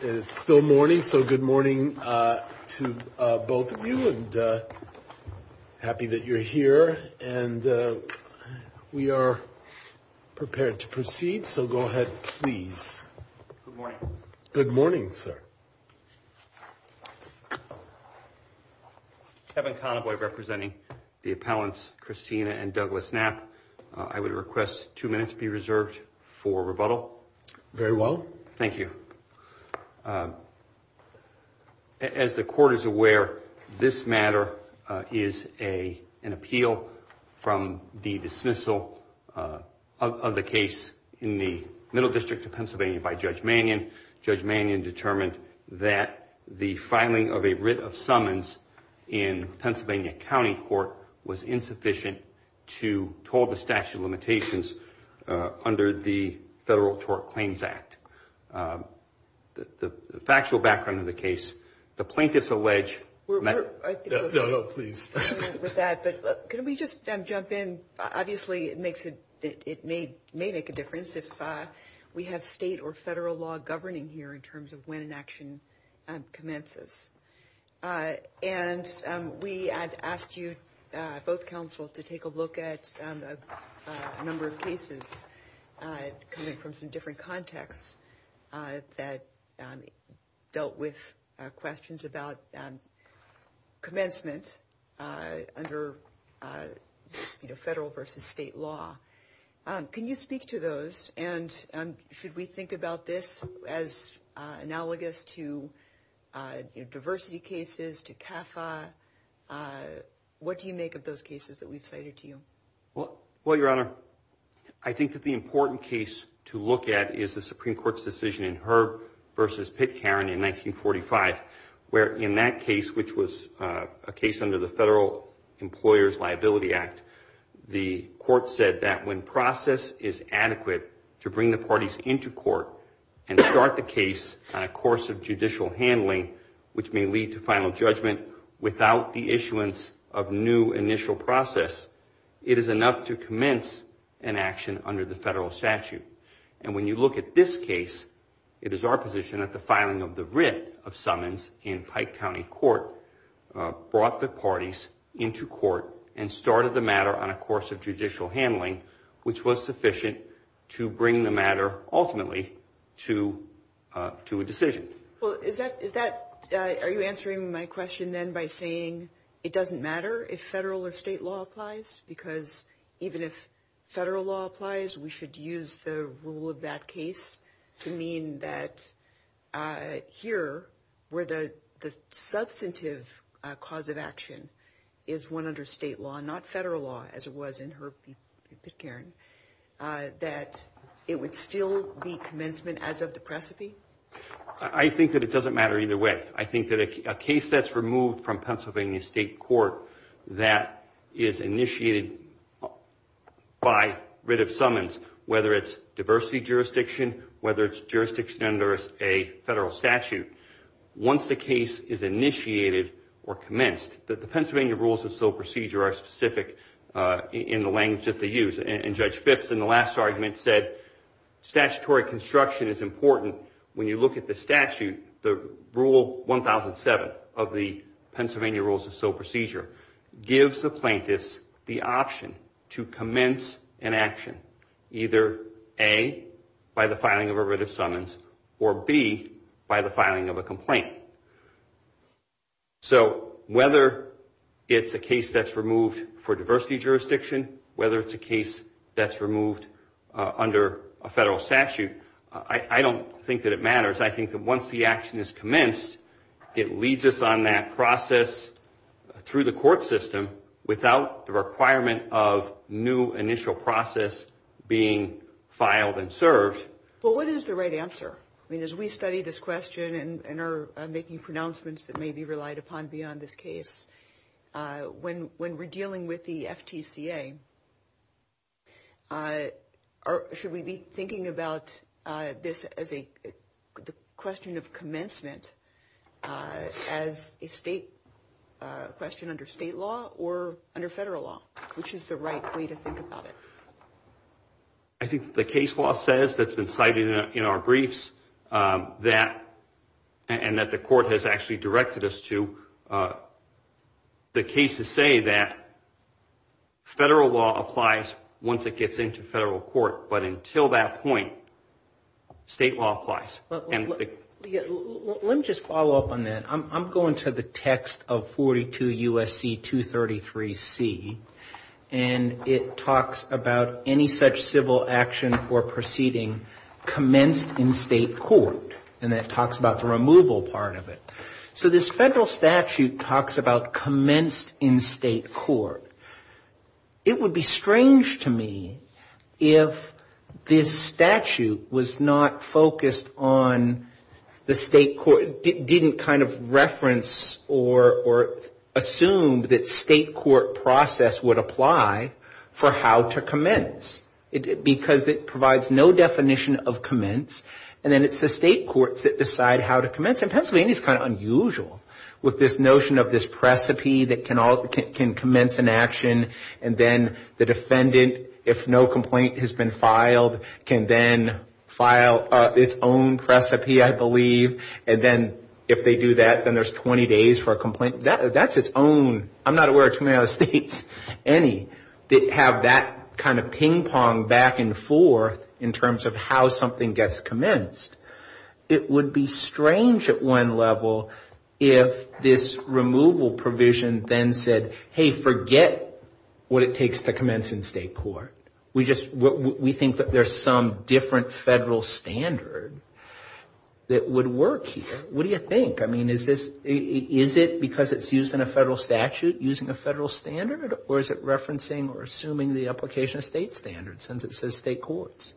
it is still morning so good morning uh to uh both of you and uh happy that you're here and uh we are prepared to proceed so go ahead please good morning good morning sir heaven convoy representing the appellants christina and douglas knapp i would request two minutes be reserved for rebuttal very well thank you as the court is aware this matter is a an appeal from the dismissal of the case in the middle district of pennsylvania by judge mangan judge mangan determined that the filing of a writ of under the federal tort claims act the factual background of the case the plaintiff's allege please with that but can we just jump in obviously it makes it it may make a difference if we have state or federal law governing here in terms of when an action commences uh and we had asked you both counsels to take a look at a number of cases coming from some different contexts that dealt with questions about commencement under you know federal versus state law can you speak to those and should we think about this as analogous to uh diversity cases to kappa uh what do you make of those cases that we've cited to you well well your honor i think that the important case to look at is the supreme court's decision in herb versus pick karen in 1945 where in that case which was a case under the federal employers liability act the court said that when process is adequate to bring the parties into court and start the case on a course of judicial handling which may lead to final judgment without the issuance of new initial process it is enough to commence an action under the federal statute and when you look at this case it is our position that the filing of the writ of summons in pike county court brought the parties into court and started the matter on a course of judicial handling which was sufficient to bring the matter ultimately to uh to a decision well is that is that are you answering my question then by saying it doesn't matter if federal or state law applies because even if federal law applies we should use the rule of that case to mean that uh here where the the substantive cause of action is one under state law not federal law as it was in her karen uh that it would still be commencement as of the precipice i think that it doesn't matter either way i think that a case that's removed from pennsylvania state court that is initiated by writ of summons whether it's diversity jurisdiction whether it's jurisdiction under a federal statute once the case is initiated or commenced that the pennsylvania rules of sole procedure are specific uh in the language that they use and judge phipps in the last argument said statutory construction is important when you look at the statute the rule 1007 of the pennsylvania rules of sole procedure gives the plaintiffs the option to commence an action either a by the filing of a writ of summons or b by the filing of a complaint so whether it's a case that's removed for diversity jurisdiction whether it's a case that's removed uh under a federal statute i i don't think that it matters i think that once the action is commenced it leads us on that process through the court system without the being filed and served well what is the right answer i mean as we study this question and are making pronouncements that may be relied upon beyond this case uh when when we're dealing with the ftca uh or should we be thinking about uh this as a the question of commencement as a state uh question under state law or under federal law which is the right way to think about it i think the case law says that's been cited in our briefs um that and that the court has actually directed us to uh the case to say that federal law applies once it gets into federal court but until that point state law applies let me just follow up on that i'm going to the text of 42 usc 233 c and it talks about any such civil action for proceeding commenced in state court and it talks about the removal part of it so this federal statute talks about commenced in state court it would be strange to me if this statute was not focused on the state court didn't kind of reference or or assumed that state court process would apply for how to commence because it provides no definition of commence and then it's the state courts that decide how to commence in pennsylvania it's kind of unusual with this notion of this precipi that can all can commence an action and then the defendant if no complaint has been filed can then file its own precipi i believe and then if they do that then there's 20 days for a complaint that that's its own i'm not aware of any that have that kind of ping pong back and forth in terms of how something gets commenced it would be strange at one level if this removal provision then said hey forget what it takes to commence in state court we just we think that there's some different federal standard that would work here what do you think i mean is this is it because it's used in a federal statute using a federal standard or is it referencing or assuming the application of state standards since it says state courts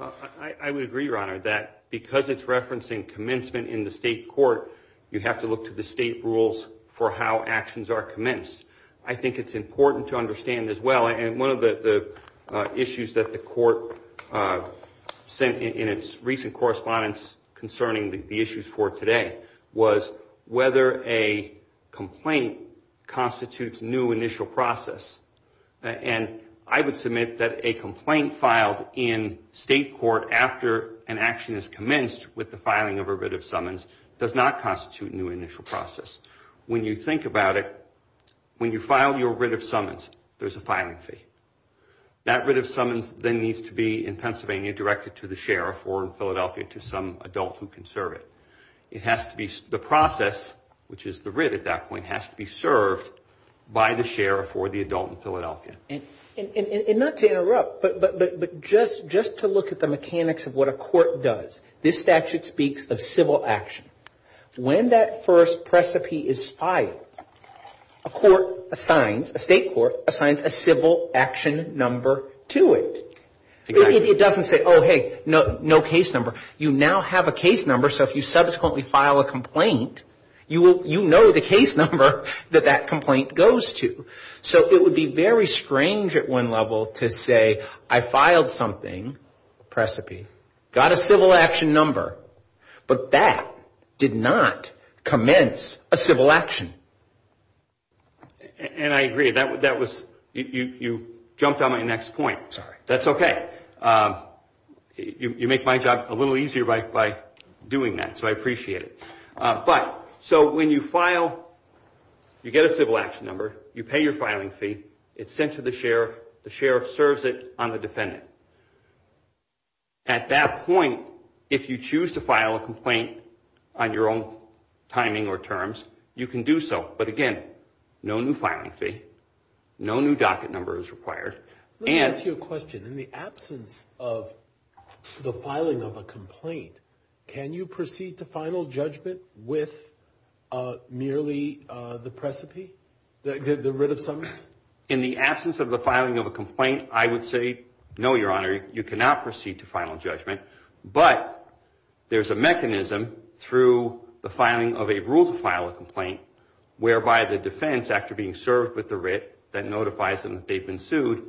i i would agree your honor that because it's referencing commencement in the state court you have to look to the state rules for how actions are commenced i think it's important to understand as well and one of the the issues that the court sent in its recent correspondence concerning the issues for today was whether a complaint constitutes new initial process and i would submit that a complaint filed in state court after an action is commenced with the filing of a writ of summons does not constitute new initial process when you think about it when you file your writ of summons there's a filing fee that writ of summons then needs to be in pennsylvania directed to the sheriff or in philadelphia to some adult who can serve it it has to be the process which is the writ at that point has to be served by the sheriff or the adult in philadelphia and and not to interrupt but but but just just to look at the mechanics of what a court does this statute speaks of civil action when that first precipice is filed a court assigns a state court assigns a civil action number to it it doesn't say oh hey no no case number you now have a case number so if you subsequently file a complaint you will you know the case number that that complaint goes to so it would be very strange at one level to say i filed something precipice got a civil action number but that did not commence a civil action and i agree that that was you you jumped on my next point sorry that's okay um you you make my job a little easier right by doing that so i appreciate it uh but so when you file you get a civil action number you pay your filing fee it's sent to the the sheriff serves it on the defendant at that point if you choose to file a complaint on your own timing or terms you can do so but again no new filing fee no new docket number is required and to question in the absence of the filing of a complaint can you proceed to i would say no your honor you cannot proceed to final judgment but there's a mechanism through the filing of a rule to file a complaint whereby the defense after being served with the writ that notifies them that they've been sued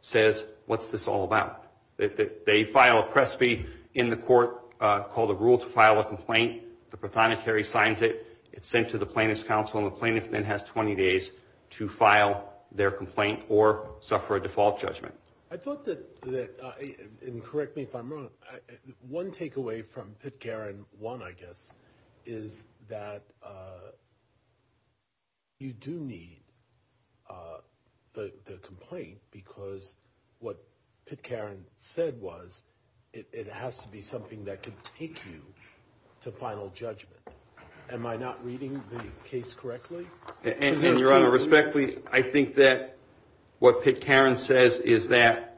says what's this all about they file a presby in the court uh called a rule to file a complaint the platonicary signs it it's sent to the plaintiff's has 20 days to file their complaint or suffer a default judgment i thought that that i and correct me if i'm wrong one takeaway from pit karen one i guess is that uh you do need uh the the complaint because what pit karen said was it has to be something that could take you to final judgment am i not reading the case correctly and your honor respect please i think that what pit karen says is that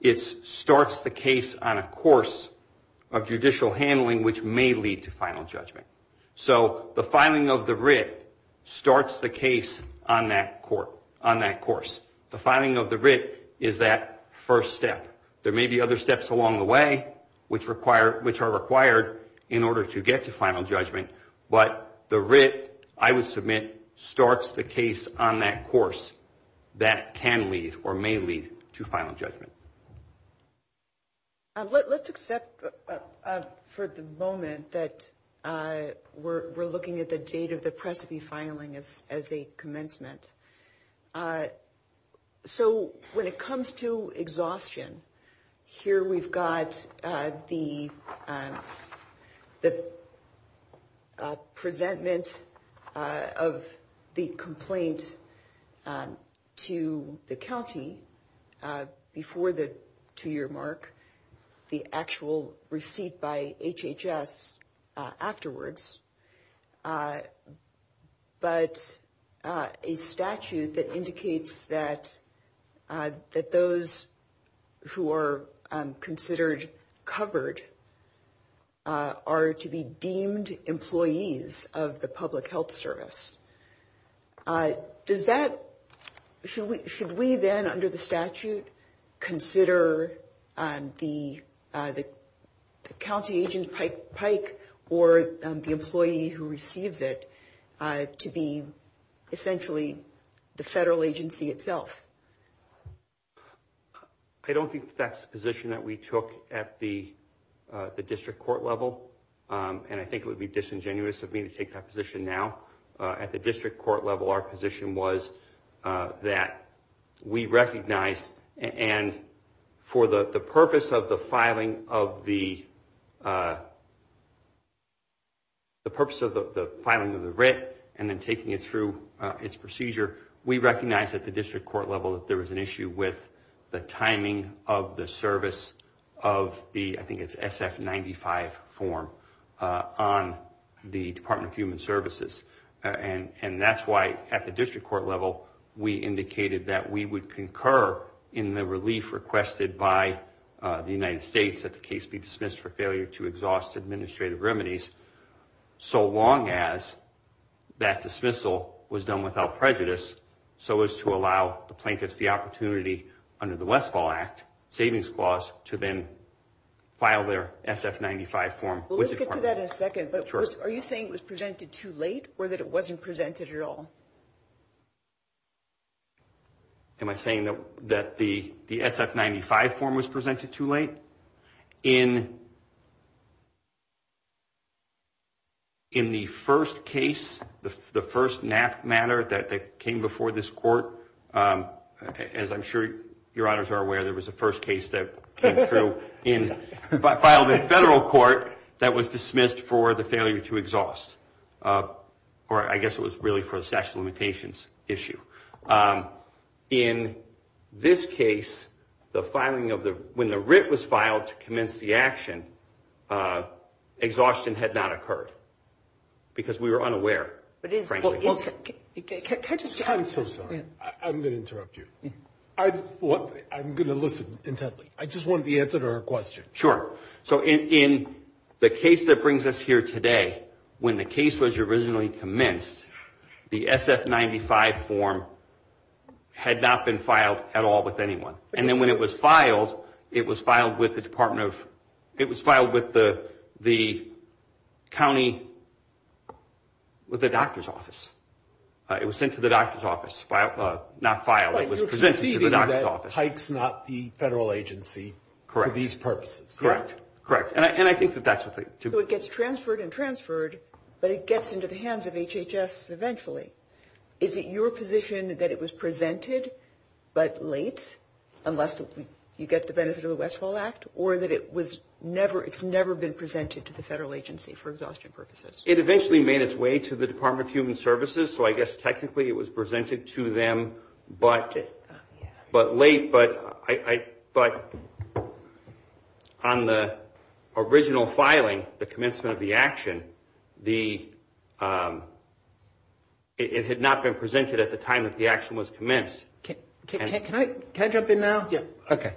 it starts the case on a course of judicial handling which may lead to final judgment so the filing of the writ starts the case on that court on that course the filing of the writ is that first step there may be other steps along the way which require which are required in order to get to final judgment but the writ i would submit starts the case on that course that can lead or may lead to final judgment let's accept for the moment that uh we're we're looking at the date of the presby filing as as a commencement uh so when it comes to exhaustion here we've got uh the um the uh preventment of the complaint um to the county uh before the two-year mark the actual receipt by hhs afterwards but a statute that indicates that that those who are considered covered are to be deemed employees of the public health service does that should we should we then under the statute consider um the uh the county agent pike pike or the employee who received it to be essentially the federal agency itself i don't think that's the position that we took at the uh the district court level um and i think it would be disingenuous of me to take that and for the the purpose of the filing of the uh the purpose of the filing of the writ and then taking it through uh its procedure we recognize at the district court level that there was an issue with the timing of the service of the i think it's sf 95 form uh on the department of human services and and that's why at the district court level we indicated that we would concur in the relief requested by uh the united states that the case be dismissed for failure to exhaust administrative remedies so long as that dismissal was done without prejudice so as to allow the plaintiffs the opportunity under the westfall act savings clause to then file their sf 95 form let's get to that in a second but first are you saying it was presented too late or that it wasn't presented at all am i saying that that the the sf 95 form was presented too late in in the first case the first knaft matter that that came before this court um as i'm sure your honors are aware there was a first case that came through in filed in federal court that was dismissed for the failure to exhaust uh or i guess it was really for the sex limitations issue um in this case the filing of the when the writ was filed to commence the action uh exhaustion had not occurred because we were unaware okay i'm so sorry i'm going to interrupt you i'm what i'm going to i just want the answer to our question sure so in in the case that brings us here today when the case was originally commenced the sf 95 form had not been filed at all with anyone and then when it was filed it was filed with the department of it was filed with the the county with the doctor's office uh it was sent to the doctor's office uh not file it was presented hikes not the federal agency for these purposes correct correct and i think that that's what it gets transferred and transferred but it gets into the hands of hhs eventually is it your position that it was presented but late unless you get the benefit of the westfall act or that it was never it's never been presented to the federal agency for exhaustion purposes it eventually made its way to the department of human services so i guess technically it was presented to them but but late but i i but on the original filing the commencement of the action the um it had not been presented at the time that the action was commenced can i can i jump in now yeah okay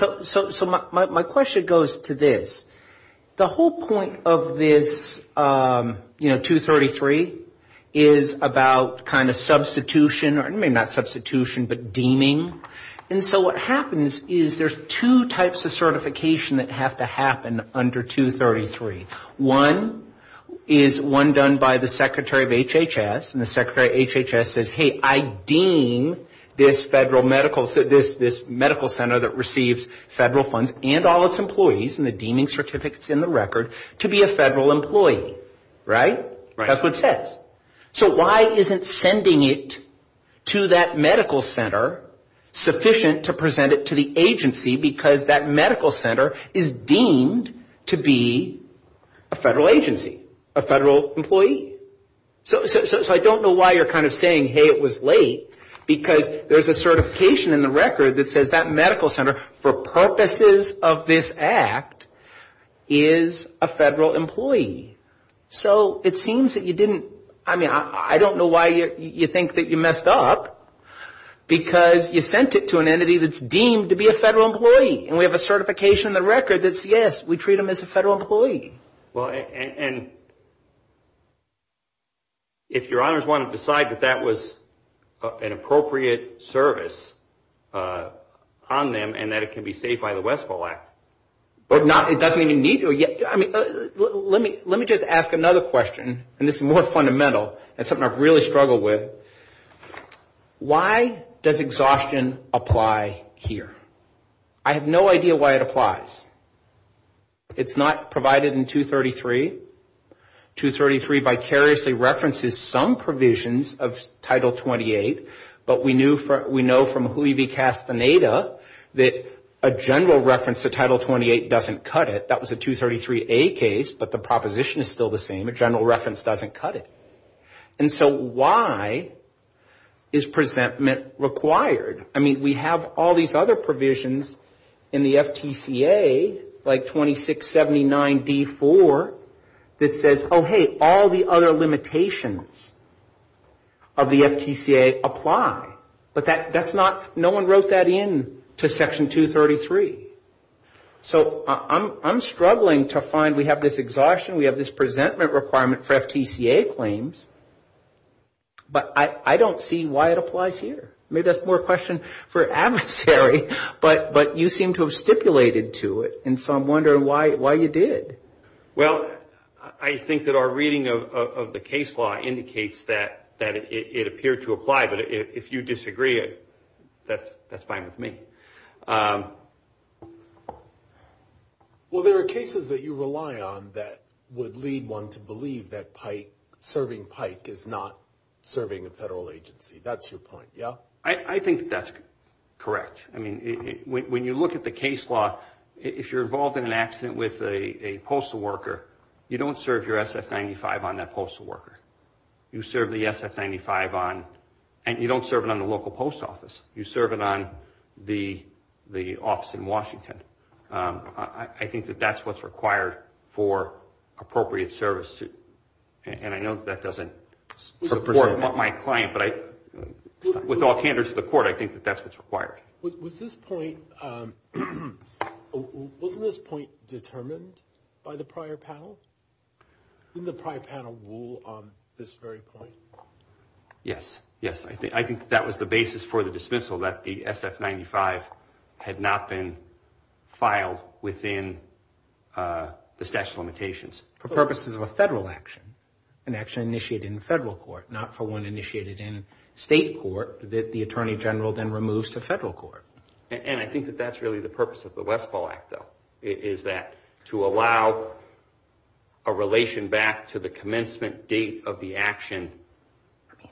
so so so my my question goes to this the whole point of this um you know 233 is about kind of substitution or maybe not substitution but deeming and so what happens is there's two types of certification that have to happen under 233 one is one done by the secretary of hhs and the secretary hhs says hey i deem this federal medical so this this medical center that receives federal funds and all its employees and the deeming certificates in the so why isn't sending it to that medical center sufficient to present it to the agency because that medical center is deemed to be a federal agency a federal employee so so i don't know why you're kind of saying hey it was late because there's a certification in the record that says that medical center for purposes of this act is a federal employee so it seems that you didn't i mean i don't know why you you think that you messed up because you sent it to an entity that's deemed to be a federal employee and we have a certification in the record that's yes we treat them as a federal employee well and and if your honors want to decide that that was an appropriate service uh on them and that it can be saved by the wesco act or not it doesn't need to yet i mean let me let me just ask another question and it's more fundamental that's something i've really struggled with why does exhaustion apply here i have no idea why it applies it's not provided in 233 233 vicariously references some provisions of title 28 but we 233a case but the proposition is still the same but general reference doesn't cut it and so why is presentment required i mean we have all these other provisions in the ftca like 2679b4 that says oh hey all the other limitations of the ftca apply but that that's not no one wrote that in to section 233 so i'm i'm struggling to find we have this exhaustion we have this presentment requirement for ftca claims but i i don't see why it applies here maybe that's more question for adversary but but you seem to have stipulated to it and so i'm wondering why why you did well i think that reading of of the case law indicates that that it appeared to apply but if you disagree it that's that's fine with me well there are cases that you rely on that would lead one to believe that pipe serving pipe is not serving a federal agency that's your point yeah i i think that's correct i mean when you look at the case law if you're involved in an accident with a postal worker you don't serve your sf95 on that postal worker you serve the sf95 on and you don't serve it on the local post office you serve it on the the office in washington um i think that that's what's required for appropriate service and i know that doesn't support my client but i with all candors to the court i think that that's what's required was this point um wasn't this point determined by the prior panel didn't the prior panel rule on this very point yes yes i think that was the basis for the dismissal that the sf95 had not been filed within uh the statute of limitations for purposes of a federal action an action initiated in federal court not for one initiated in state court that the attorney general then removes the of the westfall act though is that to allow a relation back to the commencement date of the action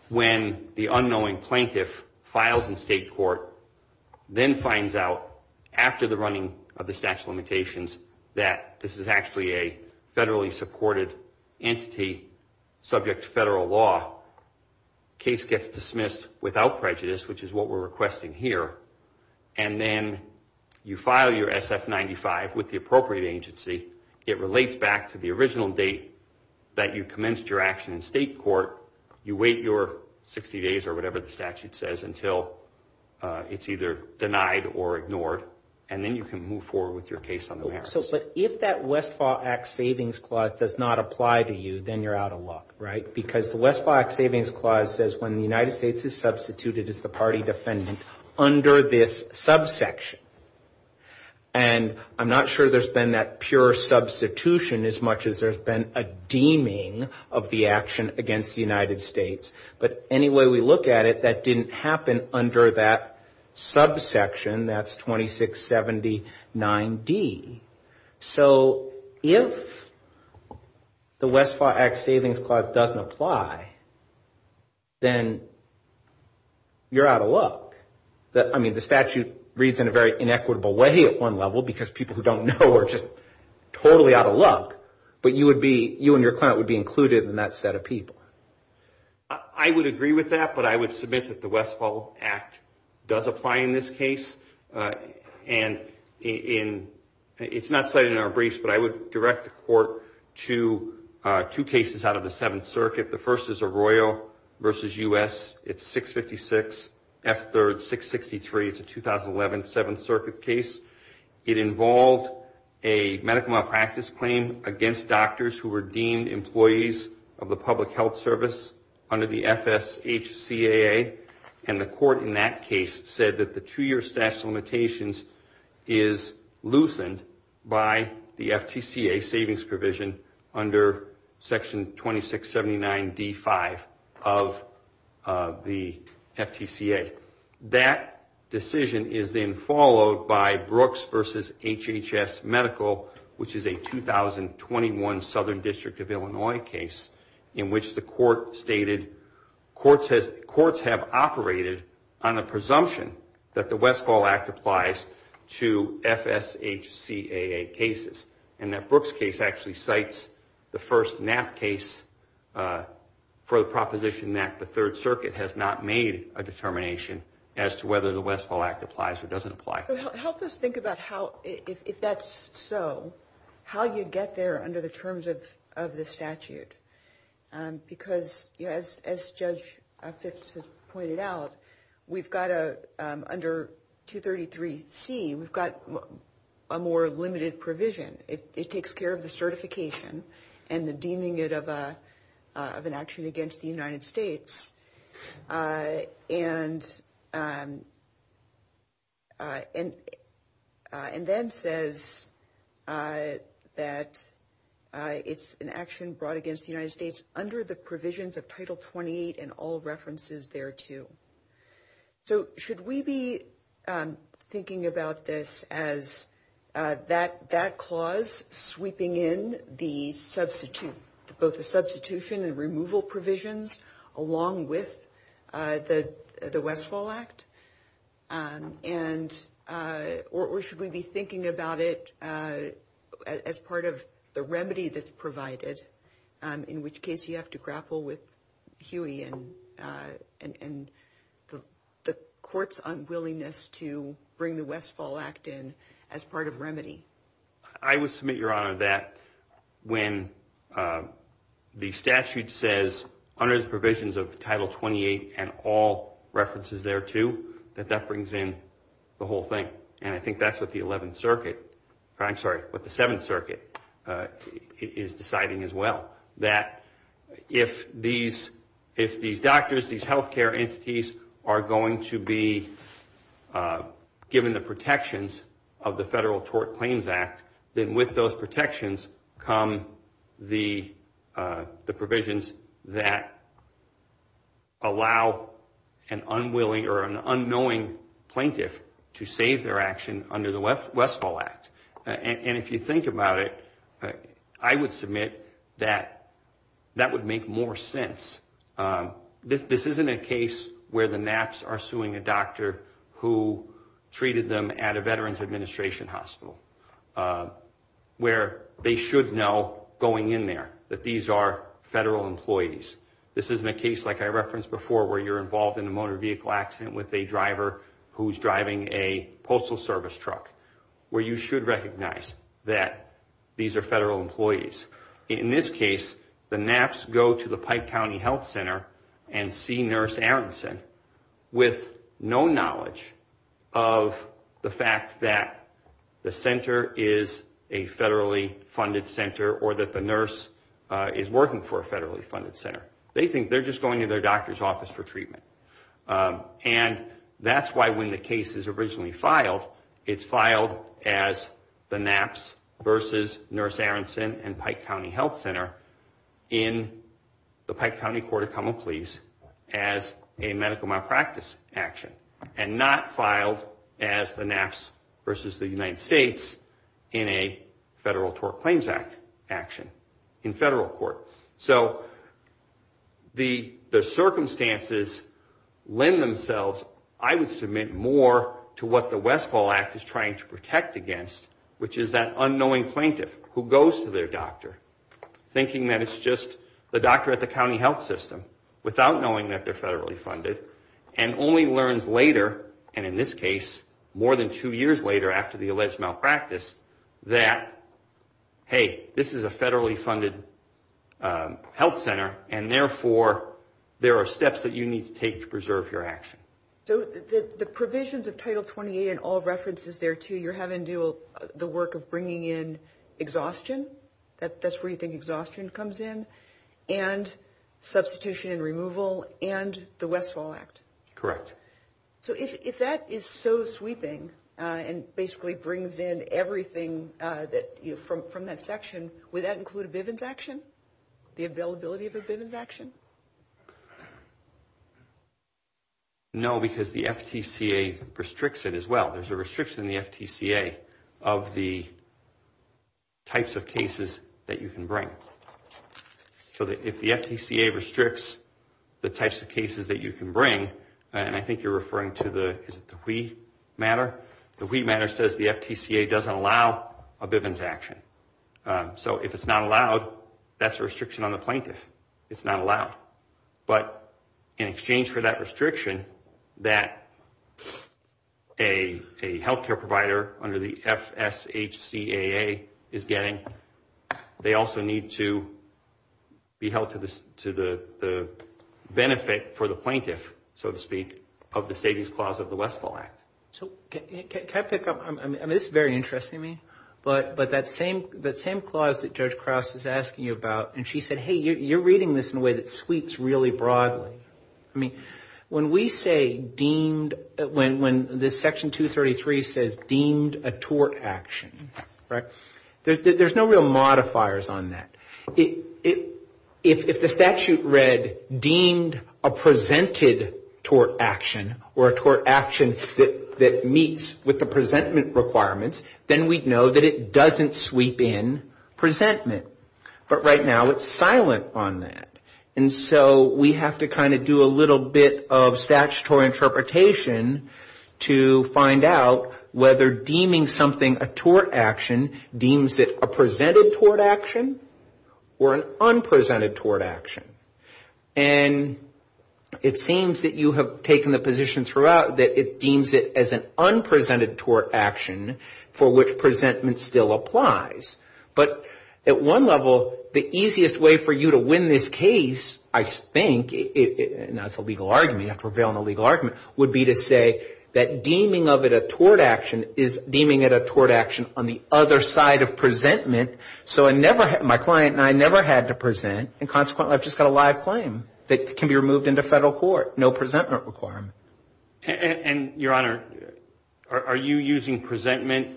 when the unknowing plaintiff files in state court then finds out after the running of the statute of limitations that this is actually a federally supported entity subject to federal law case gets dismissed without prejudice which is what we're requesting here and then you file your sf95 with the appropriate agency it relates back to the original date that you commenced your action in state court you wait your 60 days or whatever the statute says until uh it's either denied or ignored and then you can move forward with your case on the map so but if that westfall act savings clause does not apply to you then you're out of luck right because the west box savings clause says when the united states is substituted as the party defendant under this subsection and i'm not sure there's been that pure substitution as much as there's been a deeming of the action against the united states but any way we look at it that didn't happen under that subsection that's 26 79 d so if the westlaw act savings clause doesn't apply then you're out of luck that i mean the statute reads in a very inequitable way at one level because people who don't know are just totally out of luck but you would be you and your client would be included in that set of people i would agree with that but i would submit that the westfall act does apply in this case uh and in it's not set in our briefs but i would direct the court to uh two cases out of the seventh circuit the first is a royal versus us it's 656 f third 663 is a 2011 seventh circuit case it involved a medical malpractice claim against doctors who were deemed employees of the public health service under the fshcaa and the court in that case said that the two-year statute of limitations is loosened by the ftca savings provision under section 26 79 d 5 of the ftca that decision is then followed by brooks versus hhs medical which is a 2021 southern district of illinois case in which the court stated courts has courts have operated on a presumption that the westfall act applies to fshcaa cases and that brooks case actually cites the first nap case uh for the proposition that the third circuit has not made a determination as to whether the westfall act applies or doesn't apply help us think about how if that's so how you get there under the terms of of the statute um because as judge fitz has pointed out we've got a um under 233c we've got a more limited provision it takes care of the certification and the deeming it of a of an action against the united states uh and um uh and uh and then says uh that uh it's an action brought against the united states under the provisions of title 28 and all references thereto so should we be thinking about this as uh that that clause sweeping in the substitute both the substitution and removal provisions along with uh the the westfall act um and uh or should we be thinking about it uh as part of the remedy that's provided um in which case you have to grapple with huey and uh and and the court's unwillingness to bring the westfall act in as part of remedy i would submit your honor that when uh the statute says under the provisions of title 28 and all i'm sorry but the seventh circuit uh is deciding as well that if these if these doctors these health care entities are going to be uh given the protections of the federal tort claims act then with those protections come the uh the provisions that allow an unwilling or an and if you think about it i would submit that that would make more sense um this this isn't a case where the knaps are suing a doctor who treated them at a veterans administration hospital where they should know going in there that these are federal employees this isn't a case like i referenced before where you're involved in a motor vehicle accident with a driver who's driving a service truck where you should recognize that these are federal employees in this case the knaps go to the pike county health center and see nurse aronson with no knowledge of the fact that the center is a federally funded center or that the nurse is working for a federally funded center they think they're just going to their doctor's office for treatment and that's why when the case is originally filed it's filed as the knaps versus nurse aronson and pike county health center in the pike county court of common pleas as a medical malpractice action and not filed as the knaps versus the united states in a federal tort claims act action in federal court so the the circumstances lend themselves i would submit more to what the westfall act is trying to protect against which is that unknowing plaintiff who goes to their doctor thinking that it's just the doctor at the county health system without knowing that they're federally funded and only learns later and in this case more than two years later after the alleged malpractice that hey this is a federally funded health center and therefore there are steps that you need to take to preserve your action so the provisions of title 28 and all references there too you're having to do the work of bringing in exhaustion that that's where you think exhaustion comes in and substitution and removal and the westfall act correct so if that is so sweeping and basically brings in everything uh that you from from that section would that include a viv infection the availability of a viv infection no because the ftca restricts it as well there's a restriction in the ftca of the types of cases that you can bring so that if the ftca restricts the types of cases that you can and i think you're referring to the wheat matter the wheat matter says the ftca doesn't allow a viv infection so if it's not allowed that's a restriction on the plaintiff it's not allowed but in exchange for that restriction that a health care provider under the fshcaa is getting they also need to be held to this to the the benefit for the plaintiff so to speak of the savings clause of the westfall act so can i pick up i mean this is very interesting to me but but that same the same clause that judge krauss is asking you about and she said hey you're reading this in a way that sweeps really broadly i mean when we say deemed when when this section 233 says deemed a tort action right there's no real modifiers on that it it if the statute read deemed a presented tort action or a tort action that that meets with the presentment requirements then we'd know that it doesn't sweep in presentment but right now it's silent on that and so we have to kind of do a little bit of statutory interpretation to find out whether deeming something a tort action deems it a presented tort action or an unpresented tort action and it seems that you have taken the position throughout that it deems it as an unpresented tort action for which presentment still applies but at one level the i think it's a legal argument i prevail in a legal argument would be to say that deeming of it a tort action is deeming it a tort action on the other side of presentment so i never had my client and i never had to present and consequently i've just got a live claim that can be removed into federal court no presentment requirement and your honor are you using presentment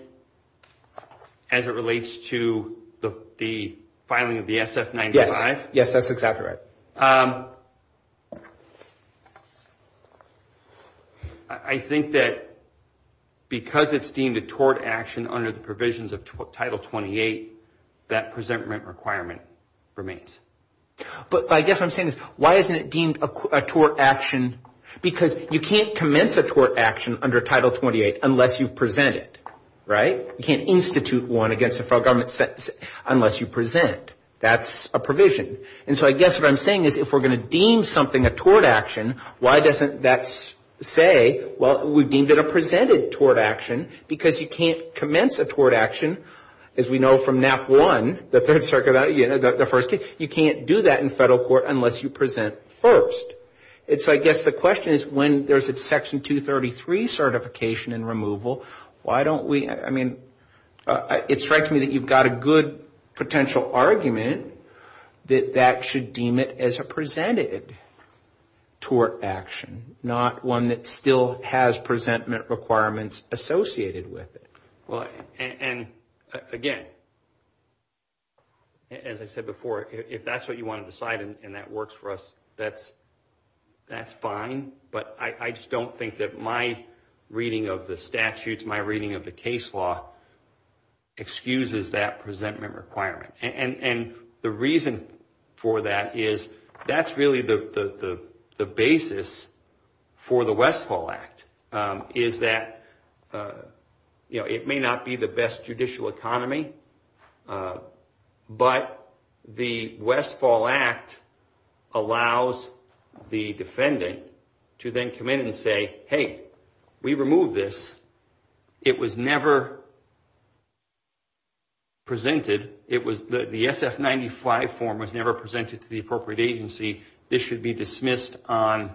as it relates to the filing of the sf 95 yes that's exactly right um i think that because it's deemed a tort action under the provisions of title 28 that presentment requirement remains but i guess i'm saying this why isn't it deemed a tort action because you can't commence a tort action under title 28 unless you present it right you can't institute one against the federal government unless you present that's a provision and so i guess what i'm saying is if we're going to deem something a tort action why doesn't that say well we've deemed it a presented tort action because you can't commence a tort action as we know from nap one the third circuit yeah the first case you can't do that in federal court unless you present first and so i guess the question is when there's a section 233 certification and removal why don't we i mean it strikes me that you've got a good potential argument that that should deem it as a presented tort action not one that still has presentment requirements associated with it well and again as i said before if that's what you want to decide and that works for us that's that's fine but i just don't think that my reading of the statutes my reading of the case law excuses that presentment requirement and and the reason for that is that's really the the the basis for the westfall act is that uh you know it may not be the best judicial economy but the westfall act allows the defendant to then come in and say hey we removed this it was never presented it was the sf95 form was never presented to the appropriate agency this should be dismissed on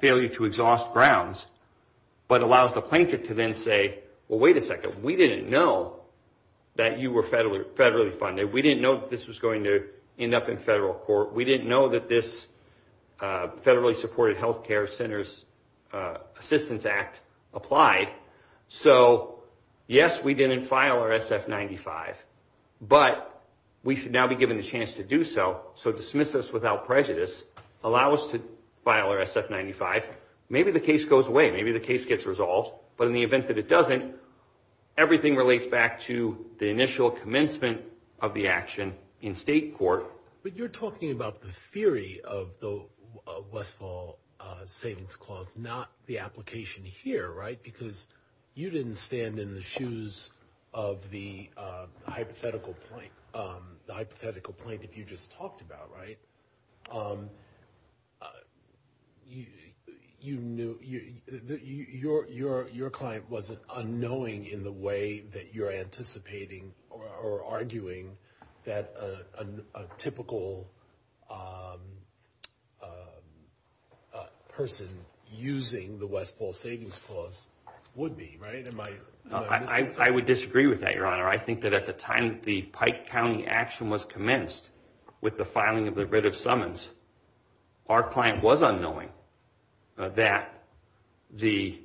failure to exhaust grounds but allows the plaintiff to then say well wait a minute we didn't know that you were federally federally funded we didn't know that this was going to end up in federal court we didn't know that this uh federally supported health care centers uh assistance act applied so yes we didn't file our sf95 but we should now be given a chance to do so so dismiss this without prejudice allow us to file our sf95 maybe the case goes away maybe the case gets resolved but in the event that it doesn't everything relates back to the initial commencement of the action in state court but you're talking about the theory of the westfall uh savings clause not the application here right because you didn't stand in the shoes of the uh hypothetical point um the hypothetical point that you just talked about right um you you knew you your your your client was unknowing in the way that you're anticipating or arguing that a a typical um a person using the westfall savings clause would be right in my i i would disagree with that your honor i think that at the time the pike county action was commenced with the filing of the writ summons our client was unknowing that the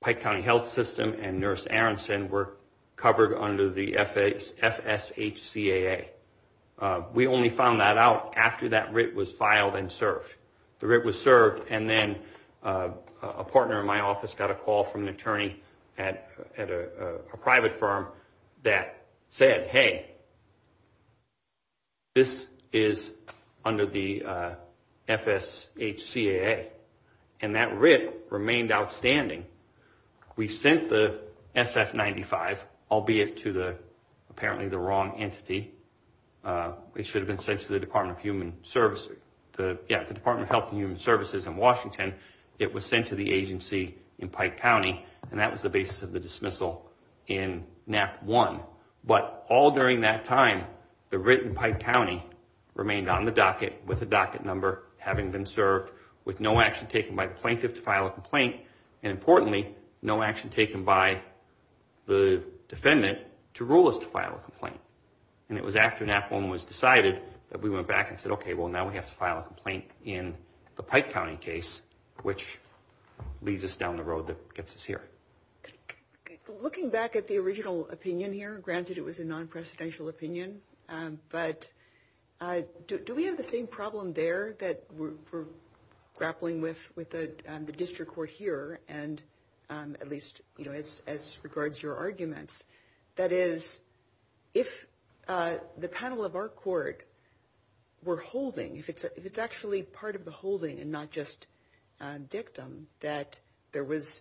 pike county health system and nurse aronson were covered under the fs fsh caa uh we only found that out after that writ was filed and served the writ was served and then a partner in my office got a call from the attorney at at a private firm that said hey this is under the fsh caa and that writ remained outstanding we sent the ss 95 albeit to the apparently the wrong entity uh it should have been sent to the department of human services the yeah the department of health and human services in washington it was sent to the agency in pike county and that was the basis of the dismissal in nap one but all during that time the written pike county remained on the docket with a docket number having been served with no action taken by the plaintiff to file a complaint and importantly no action taken by the defendant to rule us to file a complaint and it was after nap one was decided that we went back and said okay well now we have to file a complaint in the pike county case which leads us down the road that gets us here looking back at the original opinion here granted it was a non-presidential opinion um but uh do we have the same problem there that we're grappling with with the district court here and um at least you know as as regards your arguments that is if uh the panel of our court were holding if it's actually part of the holding and not just a dictum that there was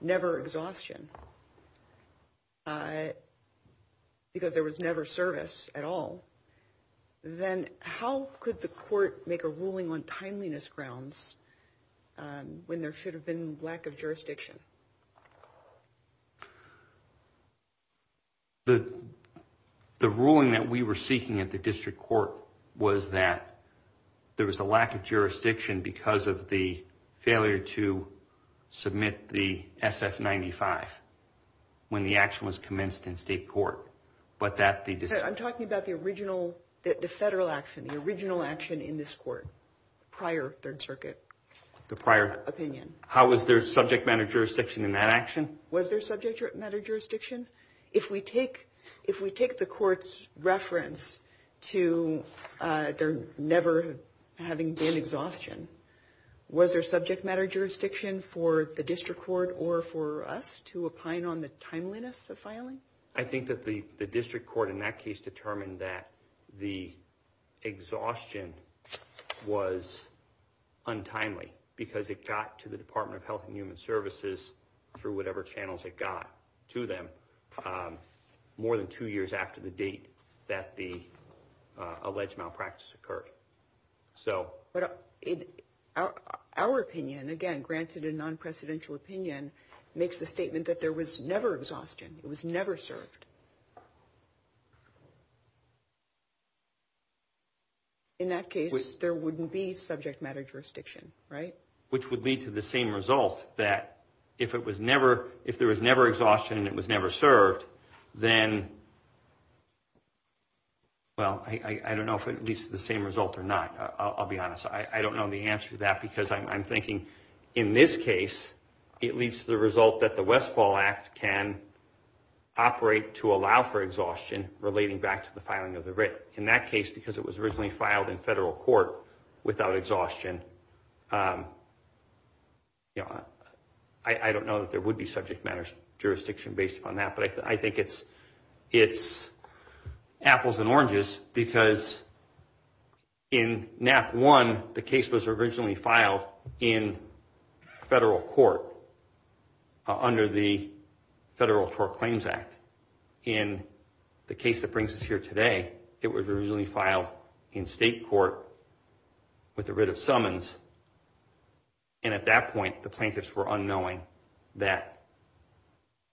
never exhaustion uh because there was never service at all then how could the court make a ruling on timeliness grounds um when there should have been lack of jurisdiction the the ruling that we were seeking at the district court was that there was a lack of jurisdiction because of the failure to submit the sf 95 when the action was commenced in state court but that the i'm talking about the original the federal action the original action in this court prior third circuit the prior opinion how was their subject manager's statement was their subject matter jurisdiction if we take if we take the court's reference to uh they're never having been exhaustion was their subject matter jurisdiction for the district court or for us to opine on the timeliness of filing i think that the the district court in that case determined that the exhaustion was untimely because it got to the department of health human services through whatever channels it got to them more than two years after the date that the alleged malpractice occurred so but our opinion again granted a non-precedential opinion makes the statement that there was never exhaustion it was never served in that case there wouldn't be subject matter jurisdiction right which would lead to the same result that if it was never if there was never exhaustion and it was never served then well i i don't know if it leads to the same result or not i'll be honest i i don't know the answer to that because i'm thinking in this case it leads to the result that the westfall act can operate to allow for exhaustion relating back to the filing of the writ in that case because it was originally filed in federal court without exhaustion um you know i i don't know that there would be subject matter jurisdiction based on that but i think it's it's apples and oranges because in nap one the case was originally filed in federal court under the federal tort claims act in the case that brings us here today it was originally filed in state court with the writ of summons and at that point the plaintiffs were unknowing that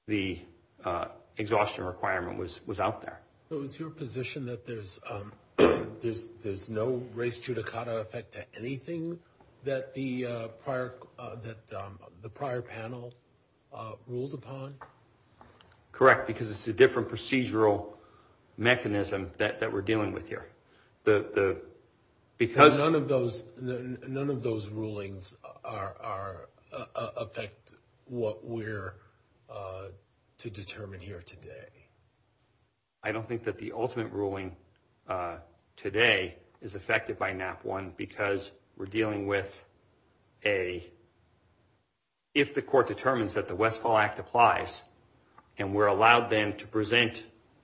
the uh exhaustion requirement was was out there so it's your position that there's um there's there's no race judicata effect to anything that the uh park uh that um the prior panel uh ruled upon correct because it's a different procedural mechanism that that we're dealing with here the the because none of those none of those rulings are affect what we're uh to determine here today i don't think that the ultimate ruling uh today is affected by nap one because we're dealing with a if the court determines that the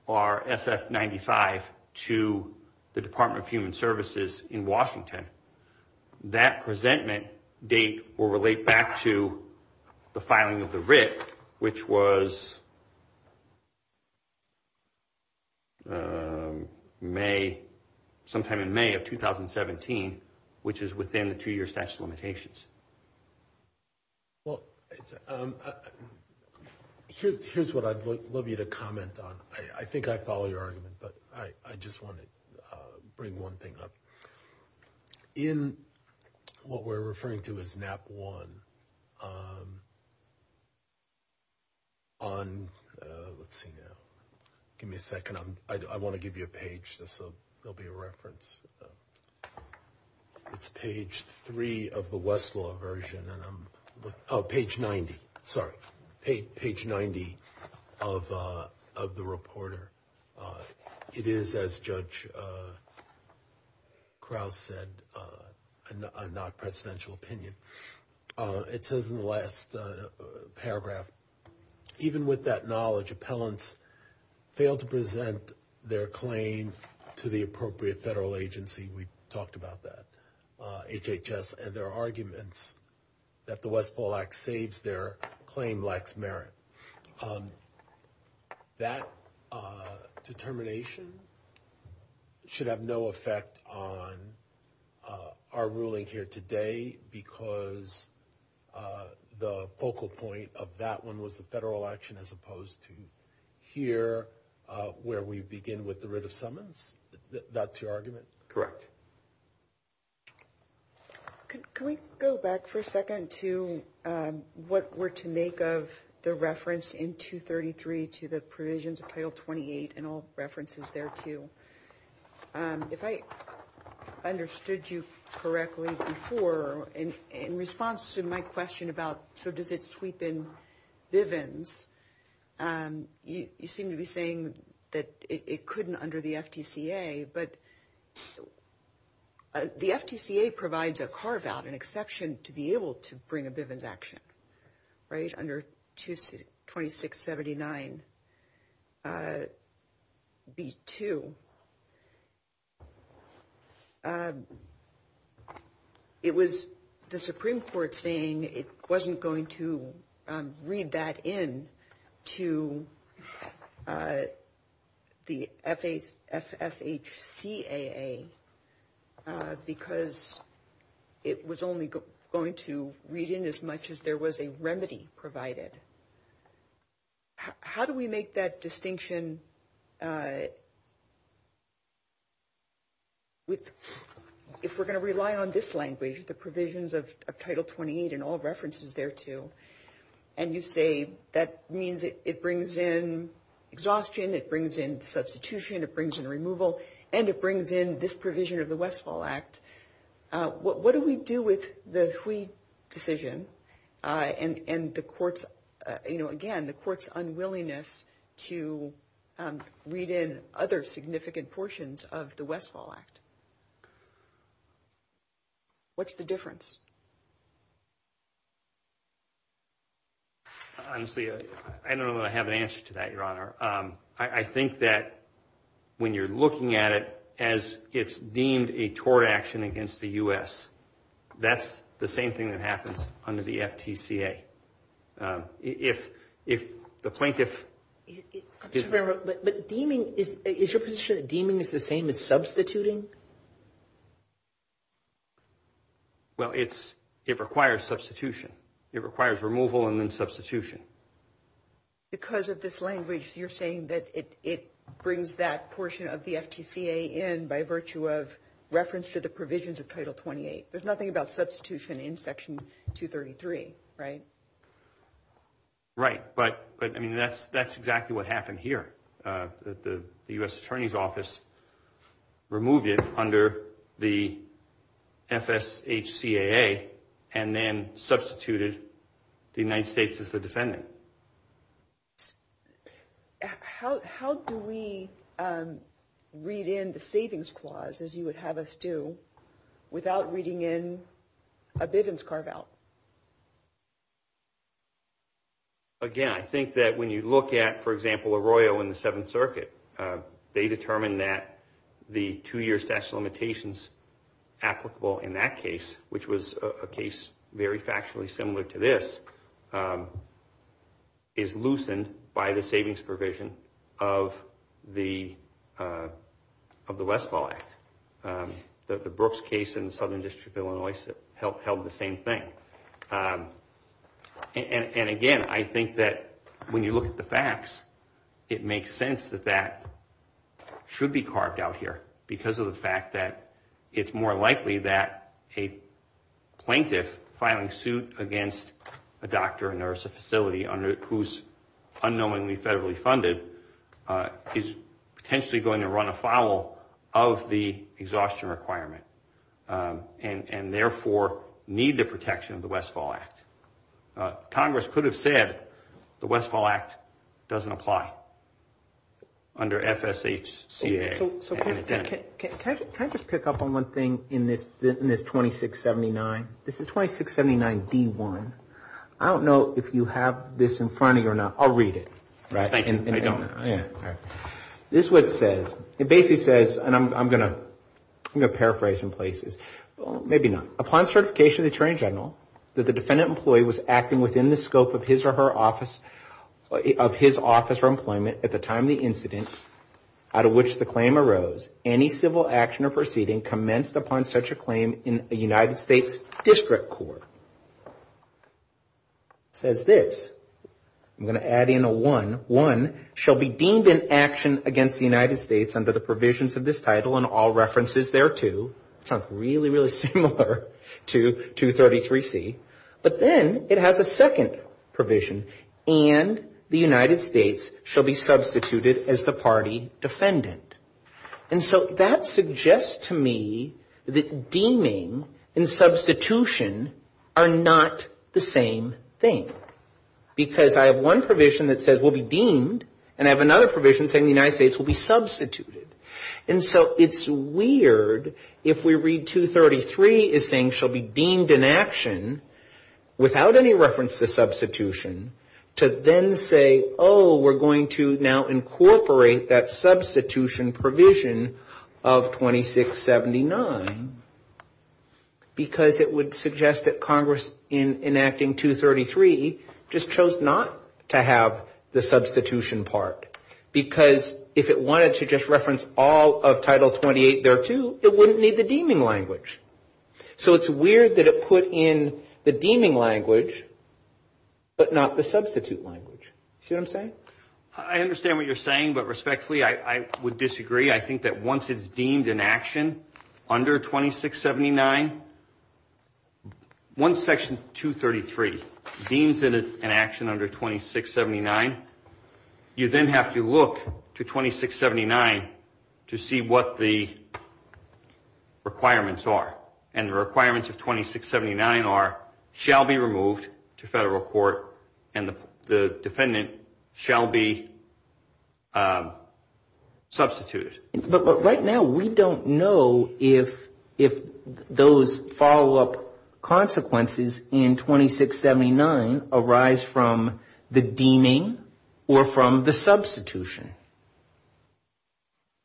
are sf 95 to the department of human services in washington that presentment date will relate back to the filing of the writ which was may sometime in may of 2017 which is within the two-year statute of limitations well um here's what i'd love you to comment on i i think i follow your argument but i i just want to bring one thing up in what we're referring to as nap one um on uh let's see now give me a second i'm i want to give you a page just so there'll be a reference uh it's page three of the westlaw version and i'm oh page 90 sorry page 90 of uh of the reporter it is as judge uh krauss said uh a non-presidential opinion uh it says in the last paragraph even with that knowledge appellants fail to present their claim to the appropriate federal agency we talked about that uh hhs and their arguments that the westfall act saves their claim lacks merit um that uh determination should have no effect on uh our ruling here today because uh the focal point of that one was the federal action as opposed to here uh where we begin with the writ of summons that's your argument correct can we go back for a second to um what we're to make of the reference in 233 to the provisions of title 28 and all references there too um if i understood you correctly before and in response to my question about so does it sweep in bivens um you you seem to be saying that it couldn't under the ftca but the ftca provides a carve out an exception to be able to bring a bivens action right under 226 79 uh b2 um it was the supreme court saying it wasn't going to read that in to uh the fa fsh caa because it was only going to read in as much as there was a remedy provided how do we make that distinction uh with if we're going to rely on this language the provisions of title 28 and all references there too and you say that means it brings in exhaustion it brings in substitution it brings in removal and it brings in this provision of the westfall act uh what do we do with the hui decision uh and the courts you know again the court's unwillingness to read in other significant portions of the westfall act what's the difference honestly i know i have an answer to that your honor um i think that when you're looking at it as it's deemed a tort action against the us that's the same thing that happens under the ftca uh if if the plaintiff but deeming is your position deeming is the same as substituting well it's it requires substitution it requires removal and then substitution because of this language you're saying that it it brings that portion of the ftca in by virtue of reference to the provisions of title 28 there's nothing about substitution in section 233 right right but but i mean that's that's exactly what happened here uh the u.s attorney's office removed it under the fshcaa and then substituted the united states as the defendant how how do we um read in the savings clause as you would have us do without reading in a bivens card out again i think that when you look at for example a royal in the seventh circuit they determine that the two-year statute of limitations applicable in that case which was a case very factually similar to this um is loosened by the savings provision of the uh of the westfall act um the brooks case in southern district illinois helped held the same thing um and and again i think that when you look at the facts it makes sense that that should be carved out here because of the fact that it's more likely that a plaintiff filing suit against a doctor a nurse a facility under whose unknowingly federally funded uh is potentially going to run afoul of the exhaustion requirement um and and therefore need the protection of the westfall act congress could have said the westfall act doesn't apply under fshcaa can i just pick up on one thing in this in this 2679 this is 2679d1 i don't know if you have this in front of you or not i'll read it right and i don't know yeah this what it says it basically says and i'm gonna i'm gonna paraphrase in places well maybe not upon certification of the train general that the defendant employee was acting within the scope of his or her office of his office for employment at the time the incident out of which the claim arose any civil action or proceeding commenced upon such a claim in united states district court says this i'm going to add in a one one shall be deemed in action against the united states under the provisions of this title and all references thereto sounds really really similar to 233c but then it has a second provision and the united states shall be substituted as the party defendant and so that suggests to me that deeming and substitution are not the same thing because i have one provision that says we'll be deemed and i have another provision saying the united states will be substituted and so it's weird if we read 233 is saying she'll be deemed in action without any reference to substitution to then say oh we're going to now incorporate that substitution provision of 2679 because it would suggest that congress in enacting 233 just chose not to have the substitution part because if it wanted to just reference all of title 28 there too it wouldn't need the deeming language so it's weird that it put in the deeming language but not the substitute language see what i'm saying i understand what you're saying but respectfully i i would disagree i think that once it's deemed in action under 2679 once section 233 deems in an action under 2679 you then have to look to 2679 to see what the federal court and the defendant shall be substituted but right now we don't know if if those follow-up consequences in 2679 arise from the deeming or from the substitution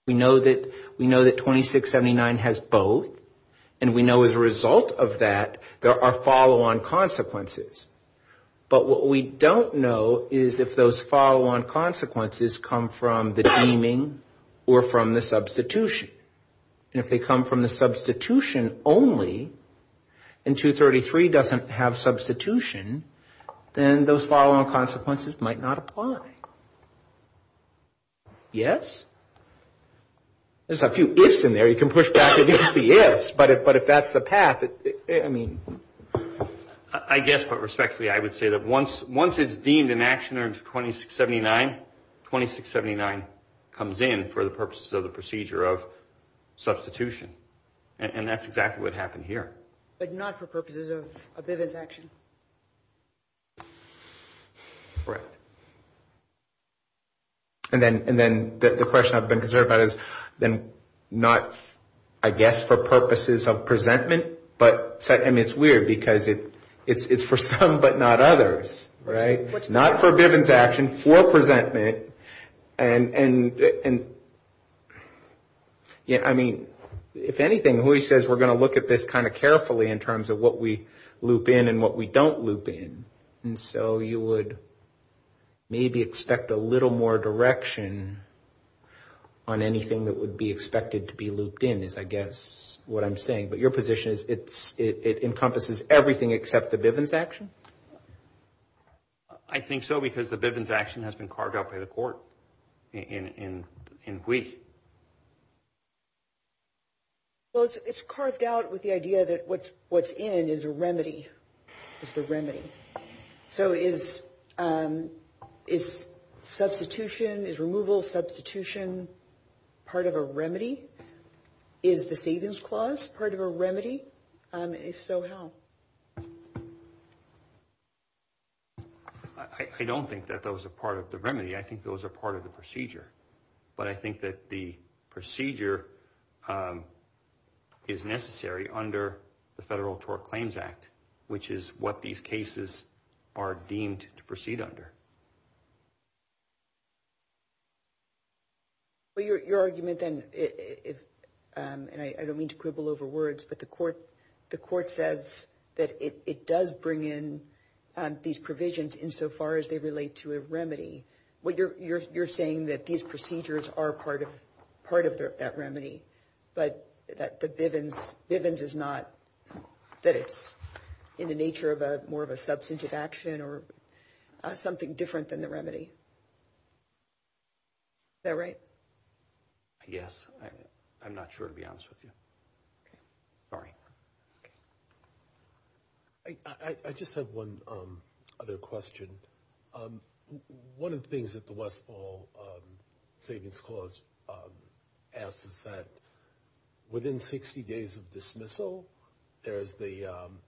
we know that we know that 2679 has both and we know as a result of that there are follow-on consequences but what we don't know is if those follow-on consequences come from the deeming or from the substitution and if they come from the substitution only and 233 doesn't have substitution then those follow-on consequences might not apply yes there's a few ifs in there you can push back against the ifs but if but if that's the path i mean i guess but respectfully i would say that once once it's deemed in action under 2679 2679 comes in for the purposes of the procedure of substitution and that's exactly what happened here but not for purposes of a bit of i guess for purposes of presentment but i mean it's weird because it it's it's for some but not others right it's not forgiven to action for presentment and and and yeah i mean if anything hui says we're going to look at this kind of carefully in terms of what we loop in and what we don't loop in and so you would maybe expect a little more direction on anything that would be expected to be looped in is i guess what i'm saying but your position is it's it encompasses everything except the bivens action i think so because the bivens action has been carved out by the court in in in hui well it's carved out with the idea that what's what's in is a remedy just a remedy so is um is substitution is removal substitution part of a remedy is the savings clause part of a remedy if so how i don't think that those are part of the remedy i think those are part of the procedure but i think that the procedure um is necessary under the federal tort claims act which is what these cases are deemed to proceed under well your your argument then is um and i don't mean to quibble over words but the court the court says that it it does bring in um these provisions insofar as they relate to a remedy well you're you're you're saying that these procedures are part of part of that remedy but that the bivens bivens is not that it's in the nature of a more of a substantive action or something different than the remedy is that right yes i'm not sure to be honest with you sorry i i just have one um other question um one of the things that the westfall um clause um asks is that within 60 days of dismissal there is the um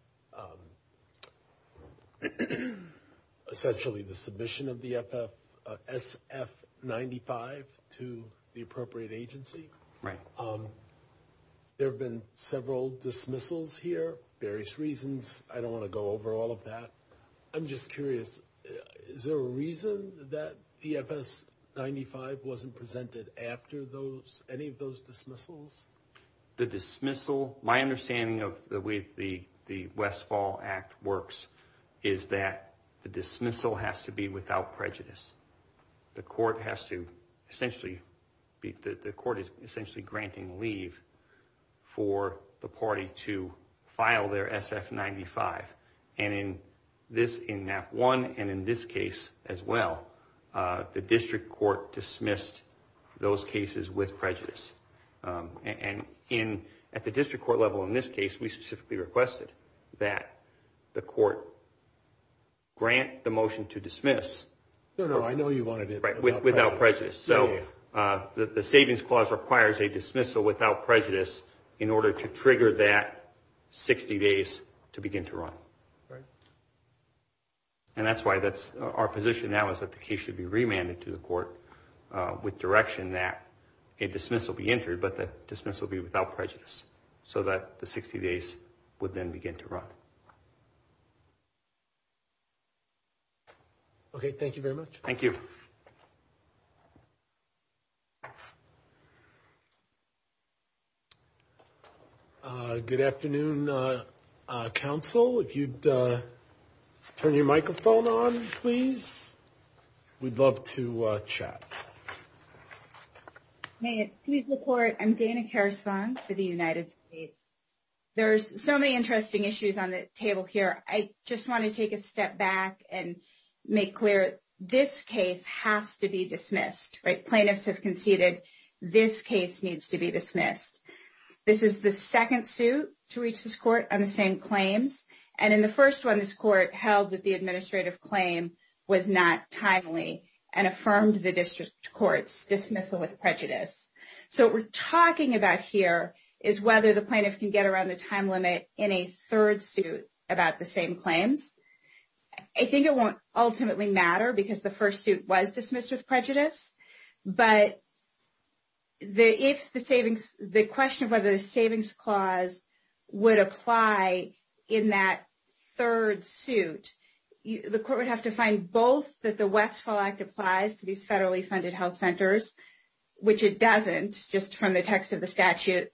essentially the submission of the ff sf 95 to the appropriate agency right um there have been several dismissals here various reasons i don't want to go over all of that i'm just curious is there a reason that the fs 95 wasn't presented after those any of those dismissals the dismissal my understanding of the way the the westfall act works is that the dismissal has to be without prejudice the court has to essentially be the court is essentially granting leave for the party to file their sf 95 and in this in that one and in this case as well uh the district court dismissed those cases with prejudice and in at the district court level in this case we specifically requested that the court grant the motion to dismiss no no i know you want right without prejudice so uh the savings clause requires a dismissal without prejudice in order to trigger that 60 days to begin to run right and that's why that's our position now is that the case should be remanded to the court uh with direction that a dismissal be entered but the dismissal will be without prejudice so that the 60 days would then begin to run okay thank you very much thank you uh good afternoon uh uh council if you'd uh turn your microphone on please we'd love to uh chat okay please report i'm danica response to the united states there's so many interesting issues on the table here i just want to take a step back and make clear this case has to be dismissed right plaintiffs have conceded this case needs to be dismissed this is the second suit to reach this court on the same claims and in the first one this court held that the administrative claim was not timely and affirmed the district courts dismissal with prejudice so we're talking about here is whether the plaintiff can get around the time limit in a third suit about the same claims i think it won't ultimately matter because the first suit was dismissed with prejudice but the if the savings the question of whether the savings clause would apply in that third suit the court would have to find both that the westfall act applies to these federally funded health centers which it doesn't just from the text of the statute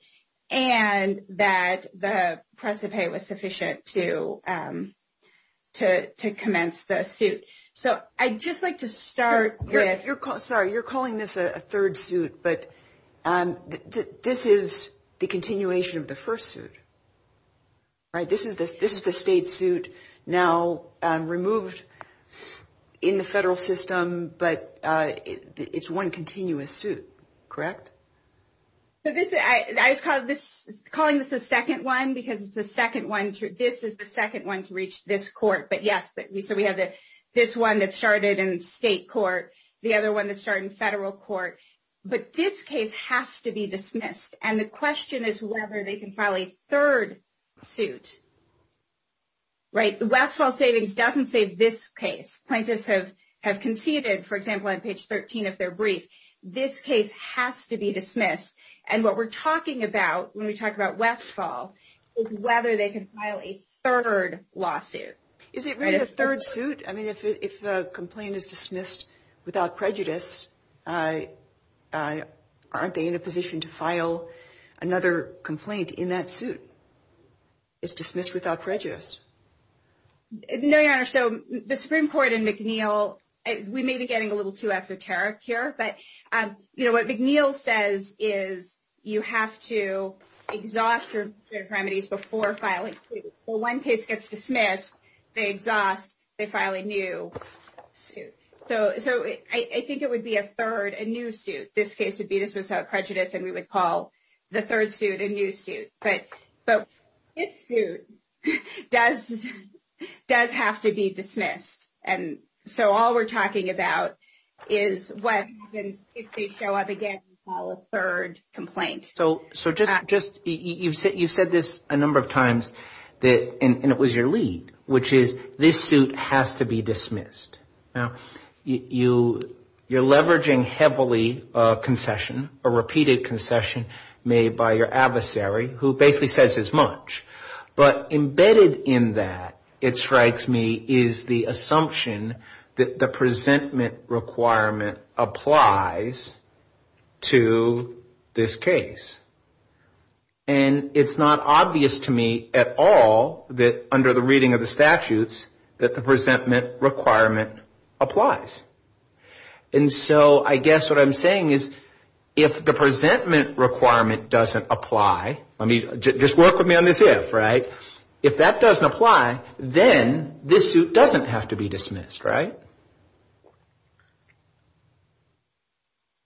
and that the precipate was sufficient to um to to commence the suit so i'd just like to start with your call sorry you're calling this a third suit but um this is the continuation of the first suit right this is this is the state suit now um removed in the federal system but uh it's one continuous suit correct so this is i i call this calling this the second one because it's the second one this is the second one to reach this court but yes so we have this one that started in state court the other one that started in federal court but this case has to be dismissed and the question is whether they can file a third suit right the westfall savings doesn't say this case plaintiffs have have conceded for example on page 13 if they're briefed this case has to be dismissed and what we're talking about when we talk about westfall is whether they can file a third lawsuit is it really a third suit i mean if the complaint is dismissed without prejudice uh uh aren't they in a position to file another complaint in that suit it's dismissed without prejudice no your honor so the supreme court and mcneil we may be getting a little too esoteric here but um you know what mcneil says is you have to exhaust your remedies before filing well one case gets dismissed they exhaust they file a new suit so so i think it would be a third a new suit this case would be this without prejudice and we would call the third suit a new suit but but this suit does does have to be dismissed and so all we're talking about is what if they show up again call a third complaint so so just just you said you said this a number of times that and it was your lead which is this suit has to be dismissed now you you're leveraging heavily a concession a repeated concession made by your adversary who basically says as much but embedded in that it strikes me is the assumption that the presentment requirement applies to this case and it's not obvious to me at all that under the reading of the statutes that the presentment requirement applies and so i guess what i'm saying is if the presentment requirement doesn't apply i mean just work with me on this if right if that doesn't apply then this suit doesn't have to be dismissed right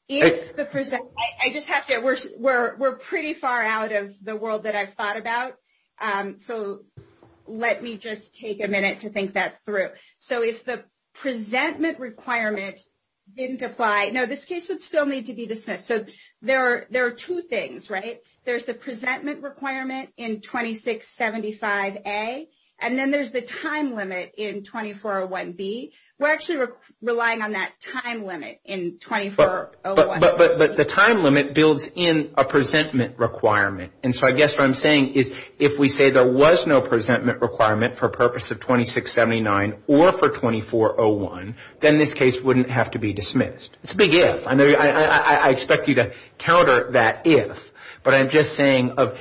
it's the present i just have to we're we're pretty far out of the world that i've thought about um so let me just take a minute to think that through so if the presentment requirement didn't apply no this case would still need to be dismissed so there are there are two things right there's the presentment requirement in 2675a and then there's the time limit in 2401b we're actually relying on that time limit in 24 but but but the time limit builds in a presentment requirement and so i guess what i'm saying is if we say there was no presentment requirement for purpose of 2679 or for 2401 then this case wouldn't have to be dismissed it's a big if i i expect you to counter that if but i'm just saying of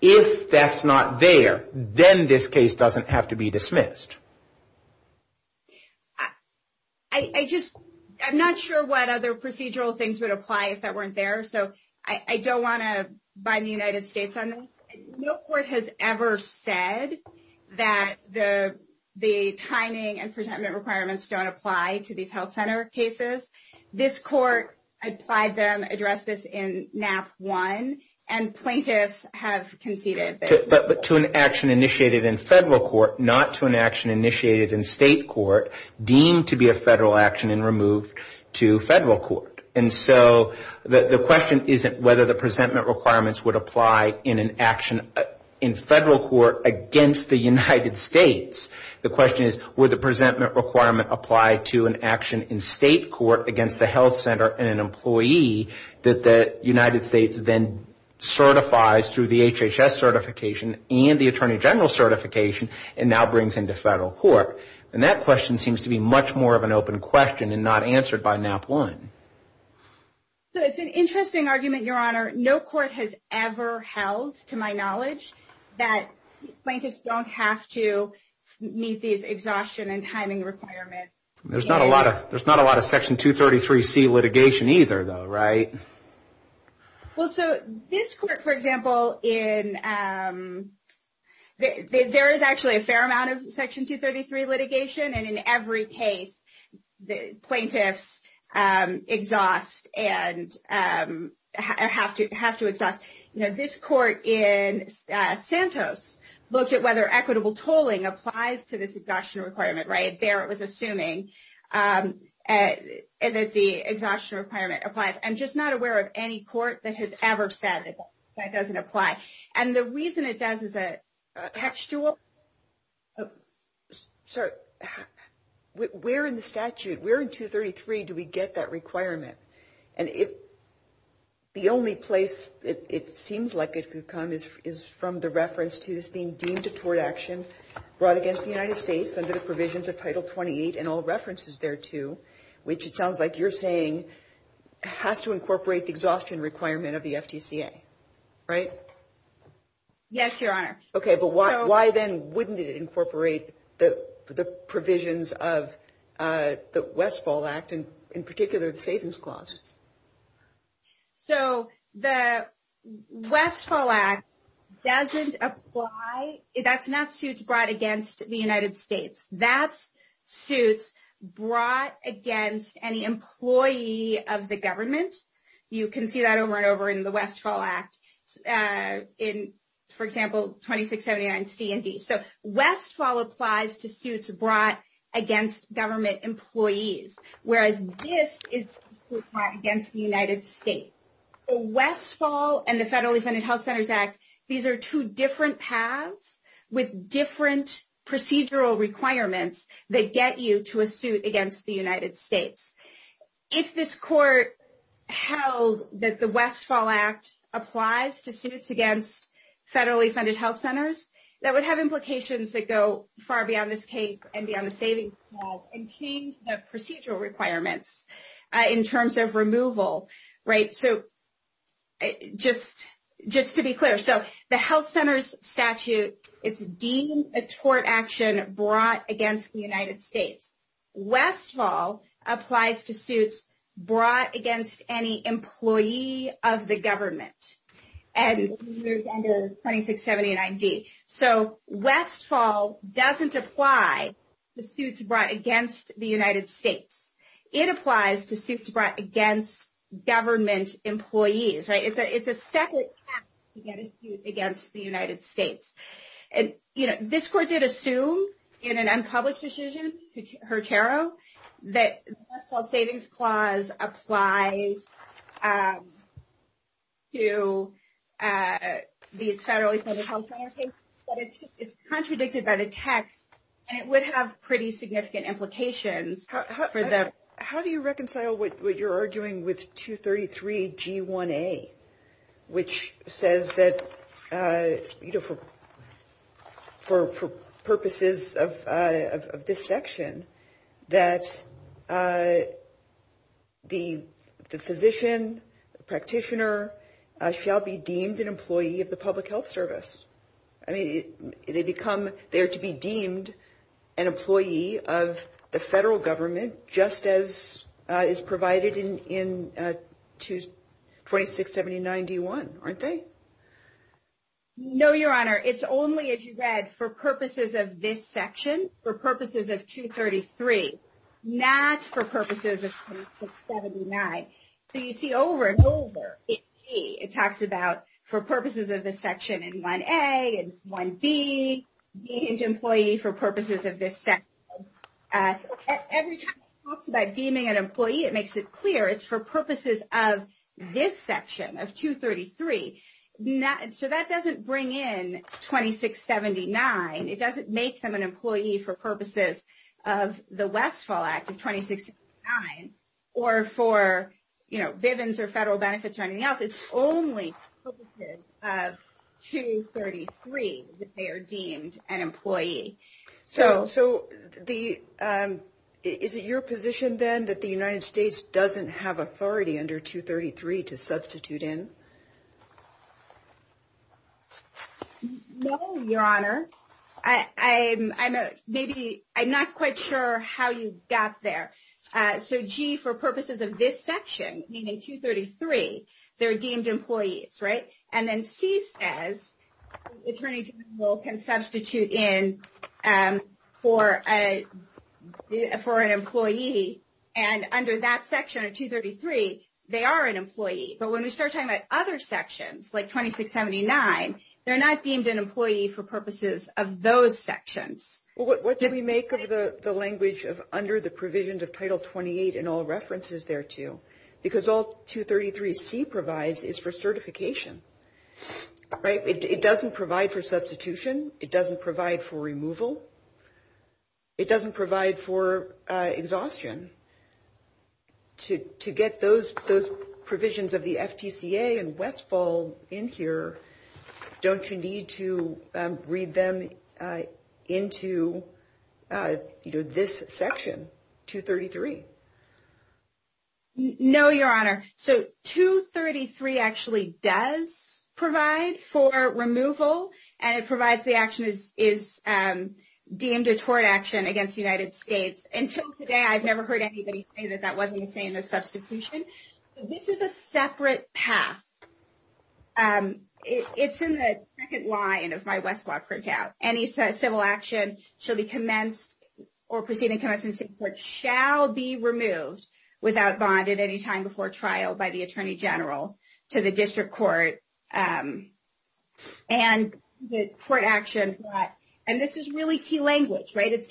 if that's not there then this case doesn't have to be dismissed i i just i'm not sure what other procedural things would apply if that weren't there so i i don't want to bind the united states on this no court has ever said that the the timing and cases this court applied them addressed this in map one and plaintiffs have conceded but to an action initiated in federal court not to an action initiated in state court deemed to be a federal action and removed to federal court and so the the question isn't whether the presentment requirements would apply in an action in federal court against the united states the question is would the presentment requirement apply to an action in state court against the health center and an employee that the united states then certifies through the hhs certification and the attorney general certification and now brings into federal court and that question seems to be much more of an open question and not answered by map one so it's an interesting argument your honor no court has ever held to my knowledge that plaintiffs don't have to meet these exhaustion and timing requirements there's not a lot of there's not a lot of section 233c litigation either though right well so this court for example in um there is actually a fair amount of section litigation and in every case the plaintiffs um exhaust and um have to have to adopt you know this court in santos looked at whether equitable tolling applies to this exhaustion requirement right there it was assuming um and that the exhaustion requirement applies i'm just not aware of any court that has ever said that that doesn't apply and the reason it does is a textual sorry we're in the statute we're in 233 do we get that requirement and if the only place it seems like it could come is from the reference to this being deemed a court action brought against the united states under the provisions of title 28 and all references thereto which it sounds like you're saying has to incorporate the exhaustion requirement of the ftca right yes your honor okay why then wouldn't it incorporate the the provisions of uh the westfall act and in particular the savings clause so the westfall act doesn't apply that's not suits brought against the united states that suits brought against any employee of the government you can see that over in the westfall act uh in for example 2679 c and d so westfall applies to suits brought against government employees whereas this is against the united states westfall and the federally funded health centers act these are two different paths with different procedural requirements that get you to a suit against the united states if this court held that westfall act applies to suits against federally funded health centers that would have implications that go far beyond this case and beyond the savings and change the procedural requirements in terms of removal right so just just to be clear so the health center's statute is deemed a tort action brought against the united states westfall applies to suits brought against any employee of the government and 2679 d so westfall doesn't apply to suits brought against the united states it applies to suits brought against government employees right it's a it's a second task to get a suit against the united states and you know this court did assume in an unpublished decision her tarot that the best health savings clause applies um to uh the federally funded health center case but it's it's contradicted by the text and it would have pretty significant implications for them how do you reconcile what you're arguing with 233 g1a which says that uh you know for for purposes of uh of this section that uh the the physician practitioner shall be deemed an employee of the public health service i mean they become there to be deemed an employee of the federal government just as uh is provided in in uh to 2670 91 aren't they no your honor it's only as you read for purposes of this section for purposes of 233 not for purposes of 279 so you see over and over it's c it talks about for purposes of this section in 1a and 1b being an employee for purposes of this step uh every time i talk about deeming an not so that doesn't bring in 2679 it doesn't make them an employee for purposes of the westfall act of 2069 or for you know bivens or federal benefits or anything else it's only of 233 that they are deemed an employee so so the um is it your position then that the united states no your honor i i'm i'm a maybe i'm not quite sure how you got there uh so g for purposes of this section meaning 233 they're deemed employees right and then c says attorney general can substitute in um for a for an employee and under that section of 233 they are an employee but when we start talking about other sections like 2679 they're not deemed an employee for purposes of those sections well what did we make of the the language of under the provisions of title 28 and all references there too because all 233c provides is for certification right it doesn't provide for substitution it doesn't provide for removal it doesn't provide for uh exhaustion to to get those those provisions of the ftca and westfall in here don't you need to read them uh into you know this section 233 no your honor so 233 actually does provide for removal and it provides the action is um deemed a tort action against the united states until today i've never heard anybody say that that wasn't saying a substitution so this is a separate path um it's in the second line of my west walk printout any civil action shall be commenced or proceeding to come up since it shall be removed without bond at any time before trial by the attorney general to the district court um and the court actions that and this is really key so this is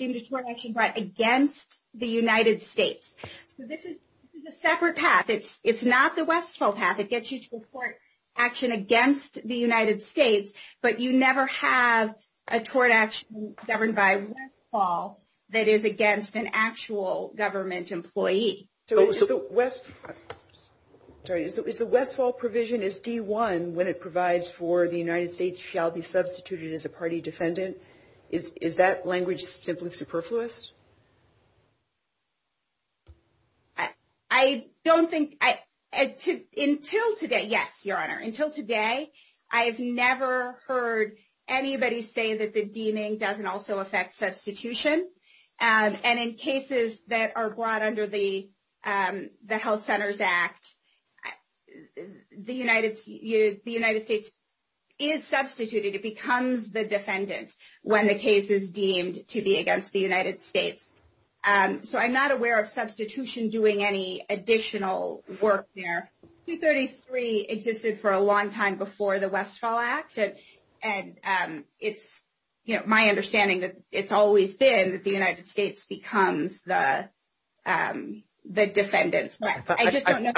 this is a separate path it's it's not the westfall path it gets you to report action against the united states but you never have a tort action governed by westfall that is against an actual government employee so it's the west sorry it's the westfall provision is d1 when it provides for the united states shall be substituted as a party defendant is that language simply superfluous i don't think i until today yes your honor until today i have never heard anybody say that the deeming doesn't also affect substitution and in cases that are brought under the um the health when the case is deemed to be against the united states um so i'm not aware of substitution doing any additional work there 233 existed for a long time before the westfall act and um it's you know my understanding that it's always been the united states becomes the um the defendant i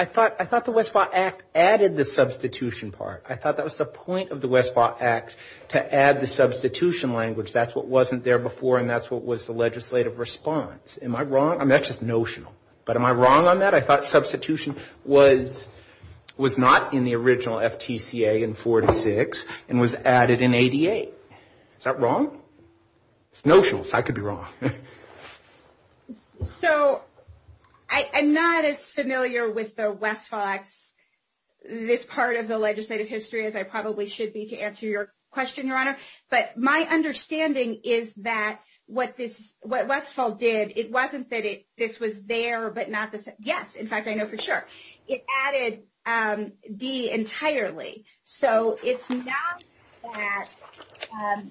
thought i thought the westfall act added the substitution part i thought that was the point the westfall acts to add the substitution language that's what wasn't there before and that's what was the legislative response am i wrong i'm not just notional but am i wrong on that i thought substitution was was not in the original ftca in 46 and was added in 88 is that wrong it's notional so i could be wrong so i am not as familiar with the westfall acts this part of the legislative history as i probably should be to answer your question your honor but my understanding is that what this what westfall did it wasn't that it this was there but not the yes in fact i know for sure it added um d entirely so it's not that um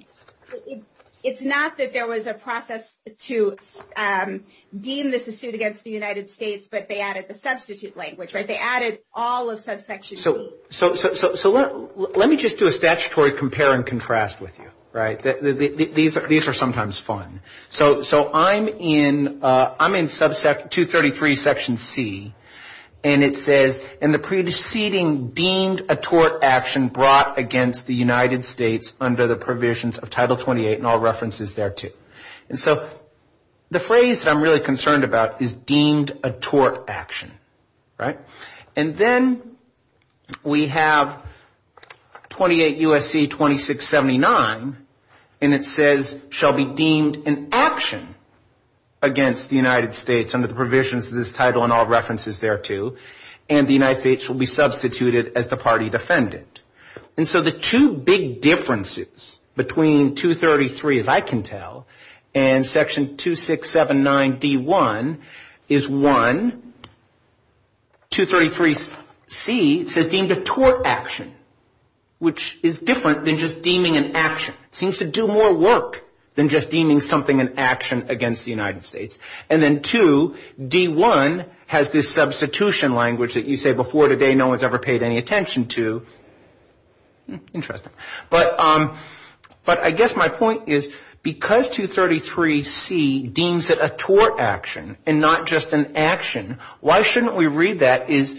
it's not that there was a process to um deem this assert against the united states but they added the substitute language right they added all of subsection so so so so let me just do a statutory compare and contrast with you right these are these are sometimes fun so so i'm in uh i'm in subsec 233 section c and it says and the preceding deemed a tort action brought against the united states under the provisions of title 28 and all references there too and so the phrase that i'm really concerned about is deemed a tort action right and then we have 28 usc 2679 and it says shall be deemed an action against the united states under the provisions of this title and all references thereto and the united states will be substituted as the party defendant and so the two big differences between 231 is one 233 c says deemed a tort action which is different than just deeming an action seems to do more work than just deeming something an action against the united states and then two d1 has this substitution language that you say before today no one's ever paid any attention to interesting but um but i guess my point is because 233 c deems it a tort action and not just an action why shouldn't we read that is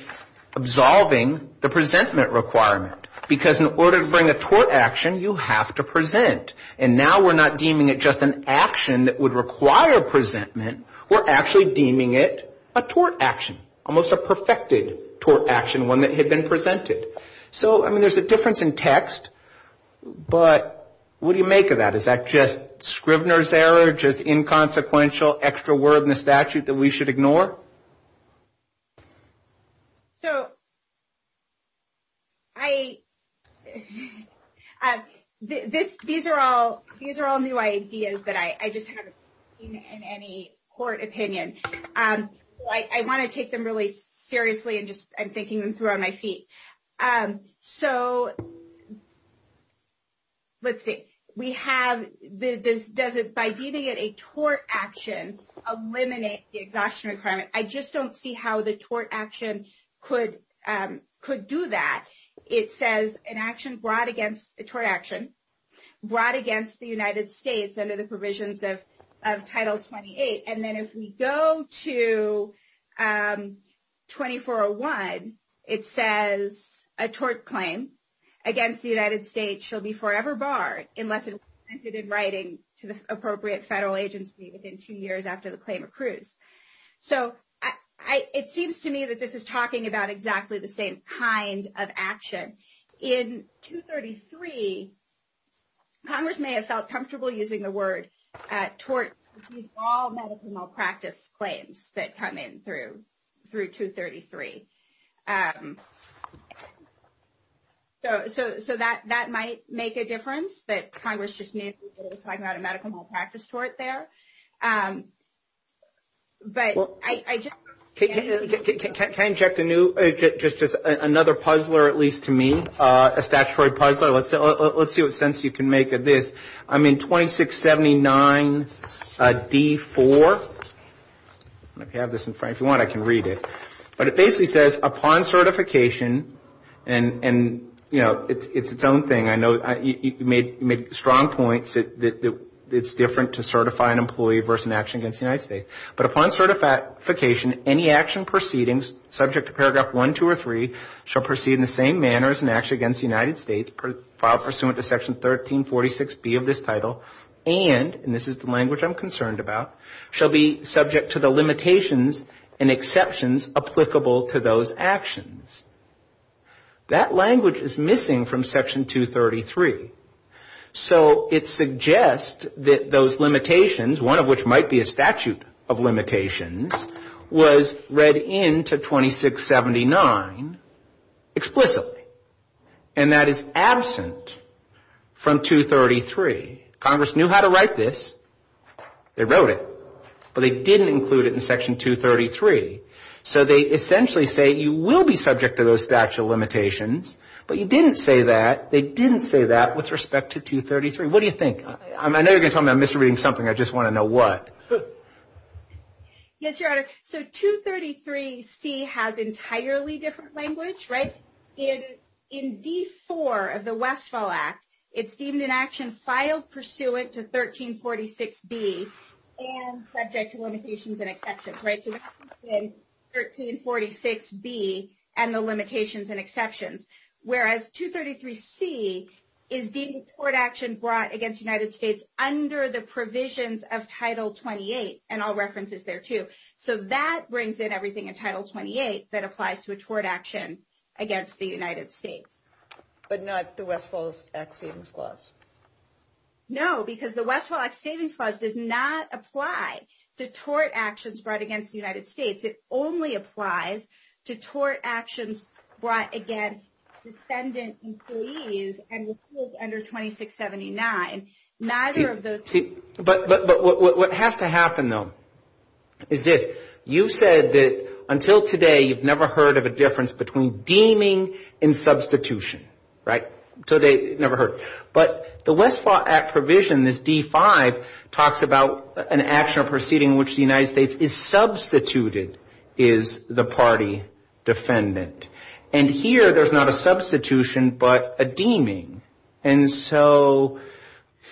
absolving the presentment requirement because in order to bring a tort action you have to present and now we're not deeming it just an action that would require presentment we're actually deeming it a tort action almost a tort action one that had been presented so i mean there's a difference in text but what do you make of that is that just scrivener's error just inconsequential extra word in the statute that we should ignore so i this these are all these are all new ideas that i just haven't seen in any court opinion um i want to take them really seriously and just i'm thinking them through on my feet um so let's see we have this does it by deeming it a tort action eliminate the exhaustion requirement i just don't see how the tort action could um could do that it says an action brought against the tort action brought against the united states under the provisions of title 28 and then if we go to um 2401 it says a tort claim against the united states shall be forever barred unless it was presented in writing to the appropriate federal agency within two years after the claim accrued so i it seems to me that this is talking about tort all medical malpractice claims that come in through through 233 um so so so that that might make a difference but congress just needs to talk about a medical malpractice tort there um but i can inject a new just just another puzzler at least to me a statutory puzzler let's let's see what sense you can make of this i'm in 2679 d4 if you have this in front if you want i can read it but it basically says upon certification and and you know it's its own thing i know you made strong points that it's different to certify an employee versus an action against the united states but upon certification any action proceedings subject to paragraph one two or three shall proceed in the same manner as an action against the united states per file pursuant to section 1346 b of this title and and this is the language i'm concerned about shall be subject to the limitations and exceptions applicable to those actions that language is missing from section 233 so it suggests that those limitations one of which might be a statute of limitations was read into 2679 explicitly and that is absent from 233 congress knew how to write this they wrote it but they didn't include it in section 233 so they essentially say you will be subject to those statute limitations but you didn't say that they didn't say that with respect to 233 what do you think i'm i know you're gonna tell me i'm good yes your honor so 233 c has entirely different language right in in d4 of the westfall act it's deemed an action filed pursuant to 1346 b and subject to limitations and exceptions right 1346 b and the limitations and exceptions whereas 233 c is being court action brought against united states under the provisions of title 28 and all references there too so that brings in everything in title 28 that applies to a tort action against the united states but not the west falls act savings clause no because the westfall act savings clause does not apply to tort actions brought against the united states it only applies to tort actions brought against descendant employees and rules under 2679 neither of those but but what has to happen though is this you said that until today you've never heard of a difference between deeming and substitution right so they never heard but the westfall act provision this d5 talks about an action or proceeding which the united states is substituted is the party defendant and here there's not a substitution but a deeming and so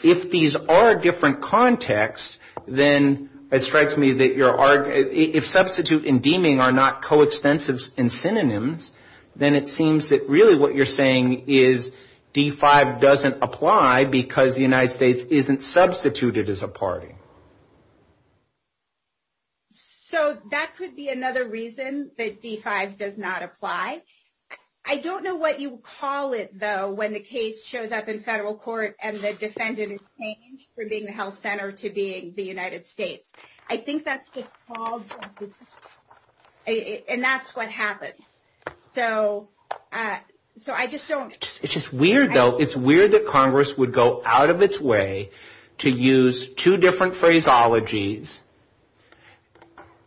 if these are different contexts then it strikes me that you're are if substitute and deeming are not coextensives and synonyms then it seems that really what you're saying is d5 doesn't apply because the united states isn't substituted as a party so that could be another reason that d5 does not apply i don't know what you call it though when the case shows up in federal court and the defendant is changed from being the health center to being the united states i think that's just called and that's what happens so uh so i just don't it's just weird though it's weird that congress would go out of its way to use two different phraseologies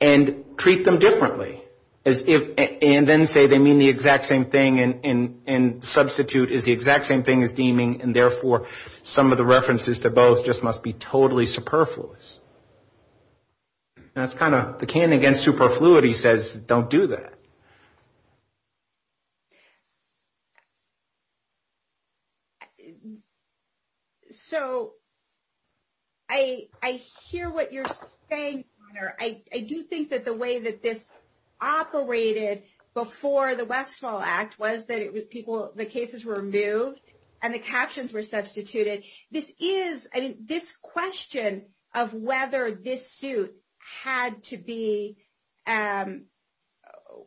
and treat them differently as if and then say they mean the exact same thing and and substitute is the exact same thing as deeming and therefore some of the references to both just must be totally superfluous that's kind of the can against superfluity says don't do that so i i hear what you're saying i do think that the way that this operated before the west fall act was that it was people the cases were removed and the captions were substituted this is this question of whether this suit had to be um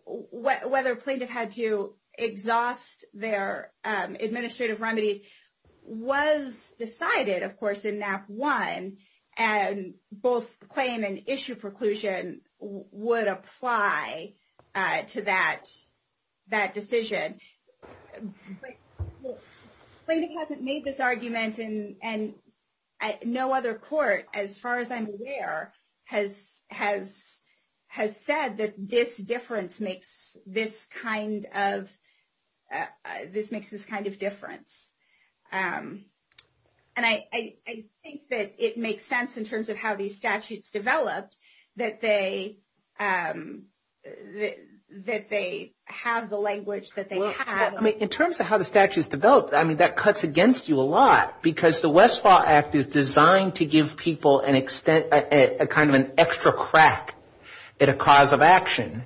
whether plaintiff had to exhaust their administrative remedy was decided of course in nap one and both claim and issue preclusion would apply uh to that that decision plaintiff hasn't made this argument and and no other court as far as i'm aware has has has said that this difference makes this kind of this makes this kind of difference um and i i think that it makes sense in terms of how these statutes developed that they um that they have the language that they have in terms of how the statutes developed i mean that cuts against you a lot because the westfall act is designed to give people an extent a kind of an extra crack at a cause of action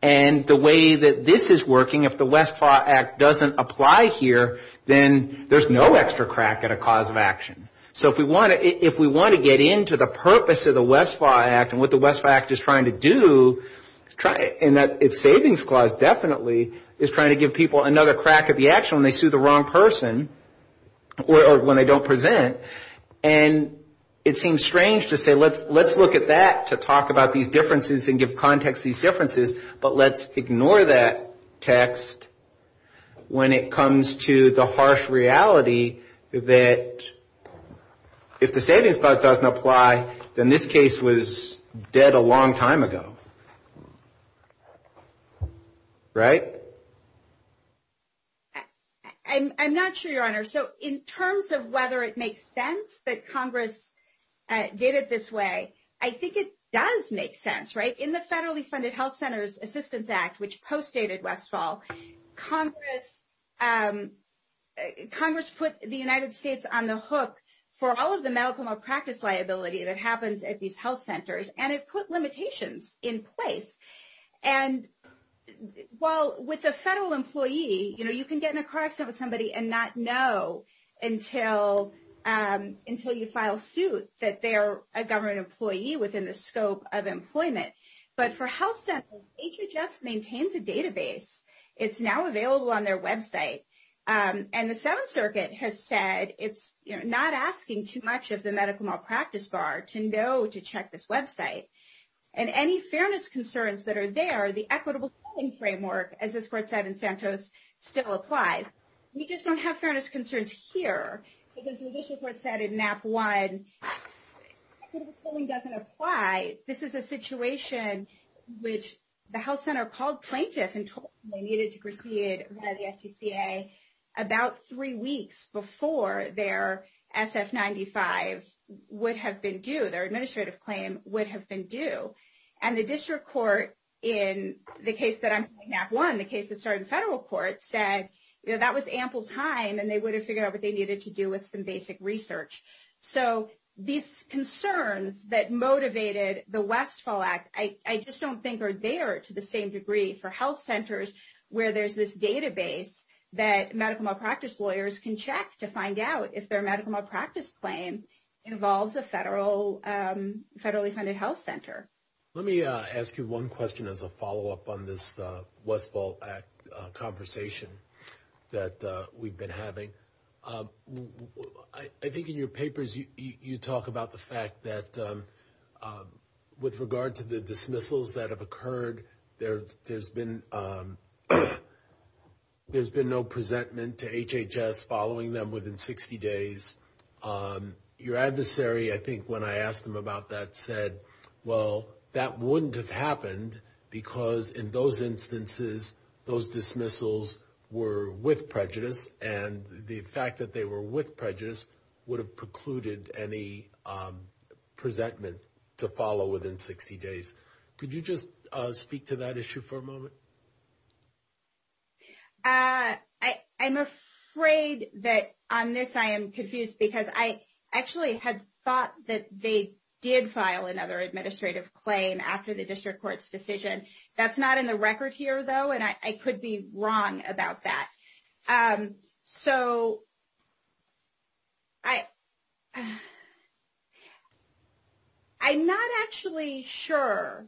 and the way that this is working if the westfall act doesn't apply here then there's no extra crack at a cause of action so if we want to if we want to get into the purpose of the westfall act and what the westfall act is trying to do try and that its savings clause definitely is trying to give people another crack at the action when they sue the wrong person or when they don't present and it seems strange to say let's let's look at that to talk about these differences and give context these differences but let's ignore that text when it comes to the harsh reality that if the savings clause doesn't apply then this case was dead a long time ago right i'm not sure your honor so in terms of whether it makes sense that congress did it this way i think it does make sense right in the federally funded health centers assistance act which postdated westfall congress um congress put the united states on the hook for all of the medical malpractice liability that happens at these health centers and it put limitations in place and well with a federal employee you know you can get in a car accident with somebody and not know until um until you file suit that they're a government employee within the scope of employment but for health centers hhs maintains a database it's now available on their website and the seventh circuit has said it's you're not asking too much of the medical malpractice bar to know to check this website and any fairness concerns that are there the equitable schooling framework as this court said in santos still applies we just don't have fairness concerns here because which the health center called plaintiffs and told them they needed to proceed by the sdca about three weeks before their ss95 would have been due their administrative claim would have been due and the district court in the case that i'm doing that one the case that started the federal court said you know that was ample time and they would have figured out what they i just don't think are there to the same degree for health centers where there's this database that medical malpractice lawyers can check to find out if their medical malpractice claim involves a federal um federally funded health center let me uh ask you one question as a follow-up on this uh westfall act conversation that uh we've been having um i think in your dismissals that have occurred there there's been um there's been no presentment to hhs following them within 60 days um your adversary i think when i asked him about that said well that wouldn't have happened because in those instances those dismissals were with prejudice and the fact that were with prejudice would have precluded any um presentment to follow within 60 days could you just uh speak to that issue for a moment uh i i'm afraid that on this i am confused because i actually had thought that they did file another administrative claim after the district court's decision that's not in the i i'm not actually sure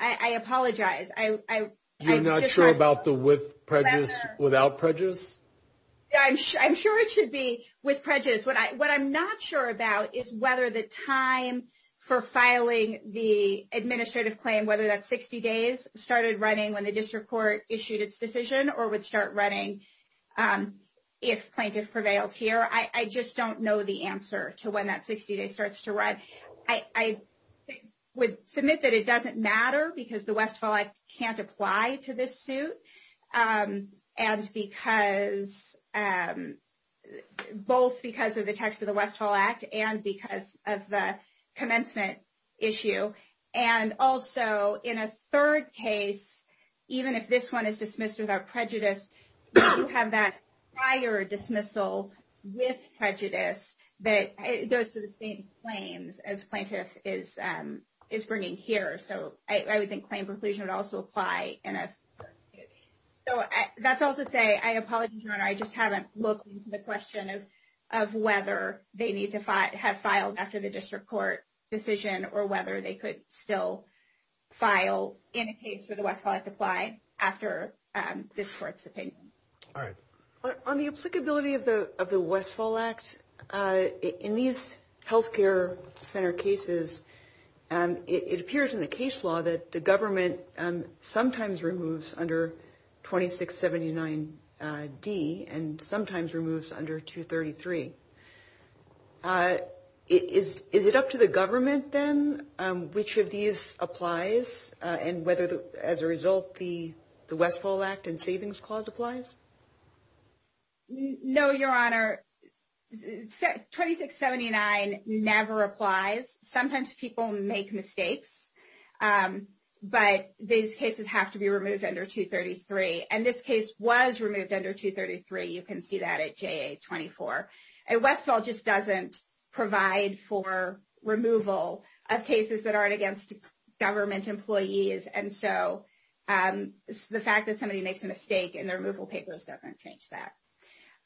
i i apologize i i i'm not sure about the with prejudice without prejudice yeah i'm sure i'm sure it should be with prejudice what i what i'm not sure about is whether the time for filing the administrative claim whether that's 60 days started running when the district court i just don't know the answer to when that 60 day starts to run i i would submit that it doesn't matter because the westfall i can't apply to this suit um and because um both because of the text of the westfall act and because of the commencement issue and also in a third case even if this one dismisses our prejudice you have that prior dismissal with prejudice but those are the same claims as plaintiff is um is bringing here so i i would think claim preclusion would also apply in a so that's all to say i apologize i just haven't looked the question of of whether they need to have filed after the district court decision or whether they could still file in a case where the westfall is applied after um this court's opinion all right but on the applicability of the of the westfall act uh in these health care center cases um it appears in the case law that the government um sometimes removes under 2679 d and sometimes removes under 233 uh is is it up to the government then um which of these applies uh and whether the as a result the the westfall act and savings clause applies no your honor 2679 never applies sometimes people make mistakes um but these cases have to be removed under 233 and this case was removed under 233 you can see that at ja24 and westfall just doesn't provide for removal of cases that aren't against government employees and so um the fact that somebody makes a mistake in the removal papers doesn't change that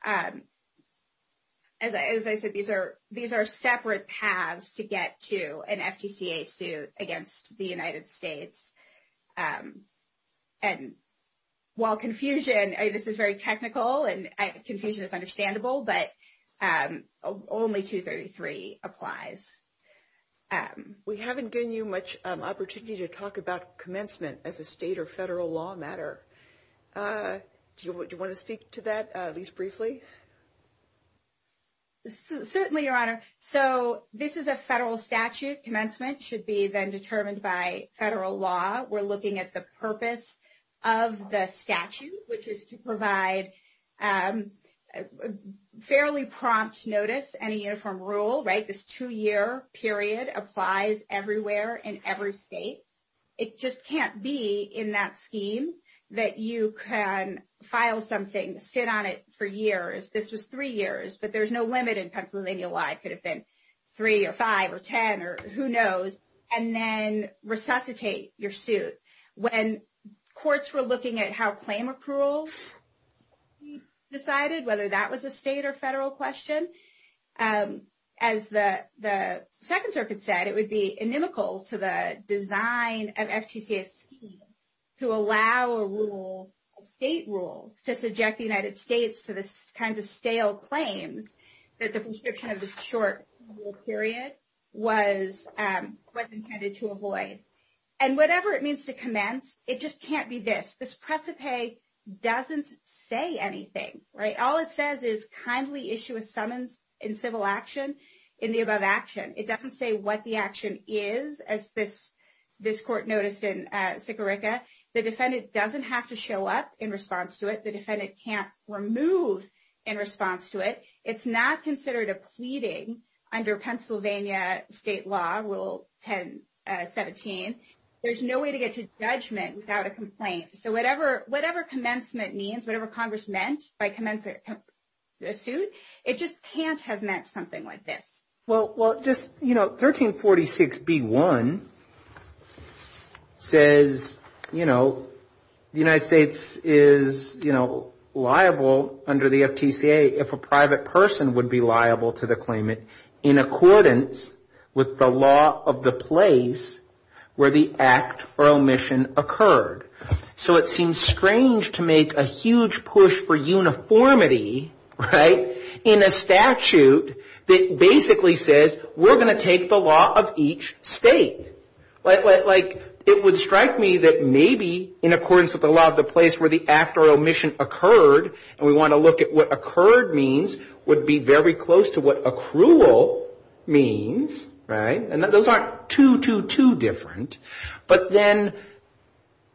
um as i said these are these are separate paths to get to an ftca suit against the united states um and while confusion this is very technical and confusion is understandable but um only 233 applies um we haven't given you much opportunity to talk about commencement as a state or federal law matter uh do you want to speak to that at least briefly certainly your honor so this is a federal statute commencement should be then determined by federal law we're looking at the purpose of the statute which is to provide um fairly prompt notice and a uniform rule right this two-year period applies everywhere in every state it just can't be in that scheme that you can file something sit on it for years this was three years but there's no limit in pennsylvania law it could have been three or five or ten or who knows and then resuscitate your suit when courts were looking at how claim accruals decided whether that was a state or federal question um as the the second circuit said it would be inimical to the that the prescription of the short period was um was intended to avoid and whatever it means to commence it just can't be this this precipice doesn't say anything right all it says is kindly issue a summons in civil action in the above action it doesn't say what the action is as this this court noticed in uh sicarica the defendant doesn't have to show up in response to it the it's not considered a pleading under pennsylvania state law rule 10 17 there's no way to get to judgment without a complaint so whatever whatever commencement means whatever congress meant by commencement suit it just can't have meant something like this well well just you know 13 46 b1 says you know the united states is you know liable under the ftca if a private person would be liable to the claimant in accordance with the law of the place where the act or omission occurred so it seems strange to make a huge push for uniformity right in a statute that basically says we're going to take the law of each state like like it would strike me that maybe in accordance with the law of the place where the act or omission occurred and we want to look at what occurred means would be very close to what accrual means right and those aren't two two two different but then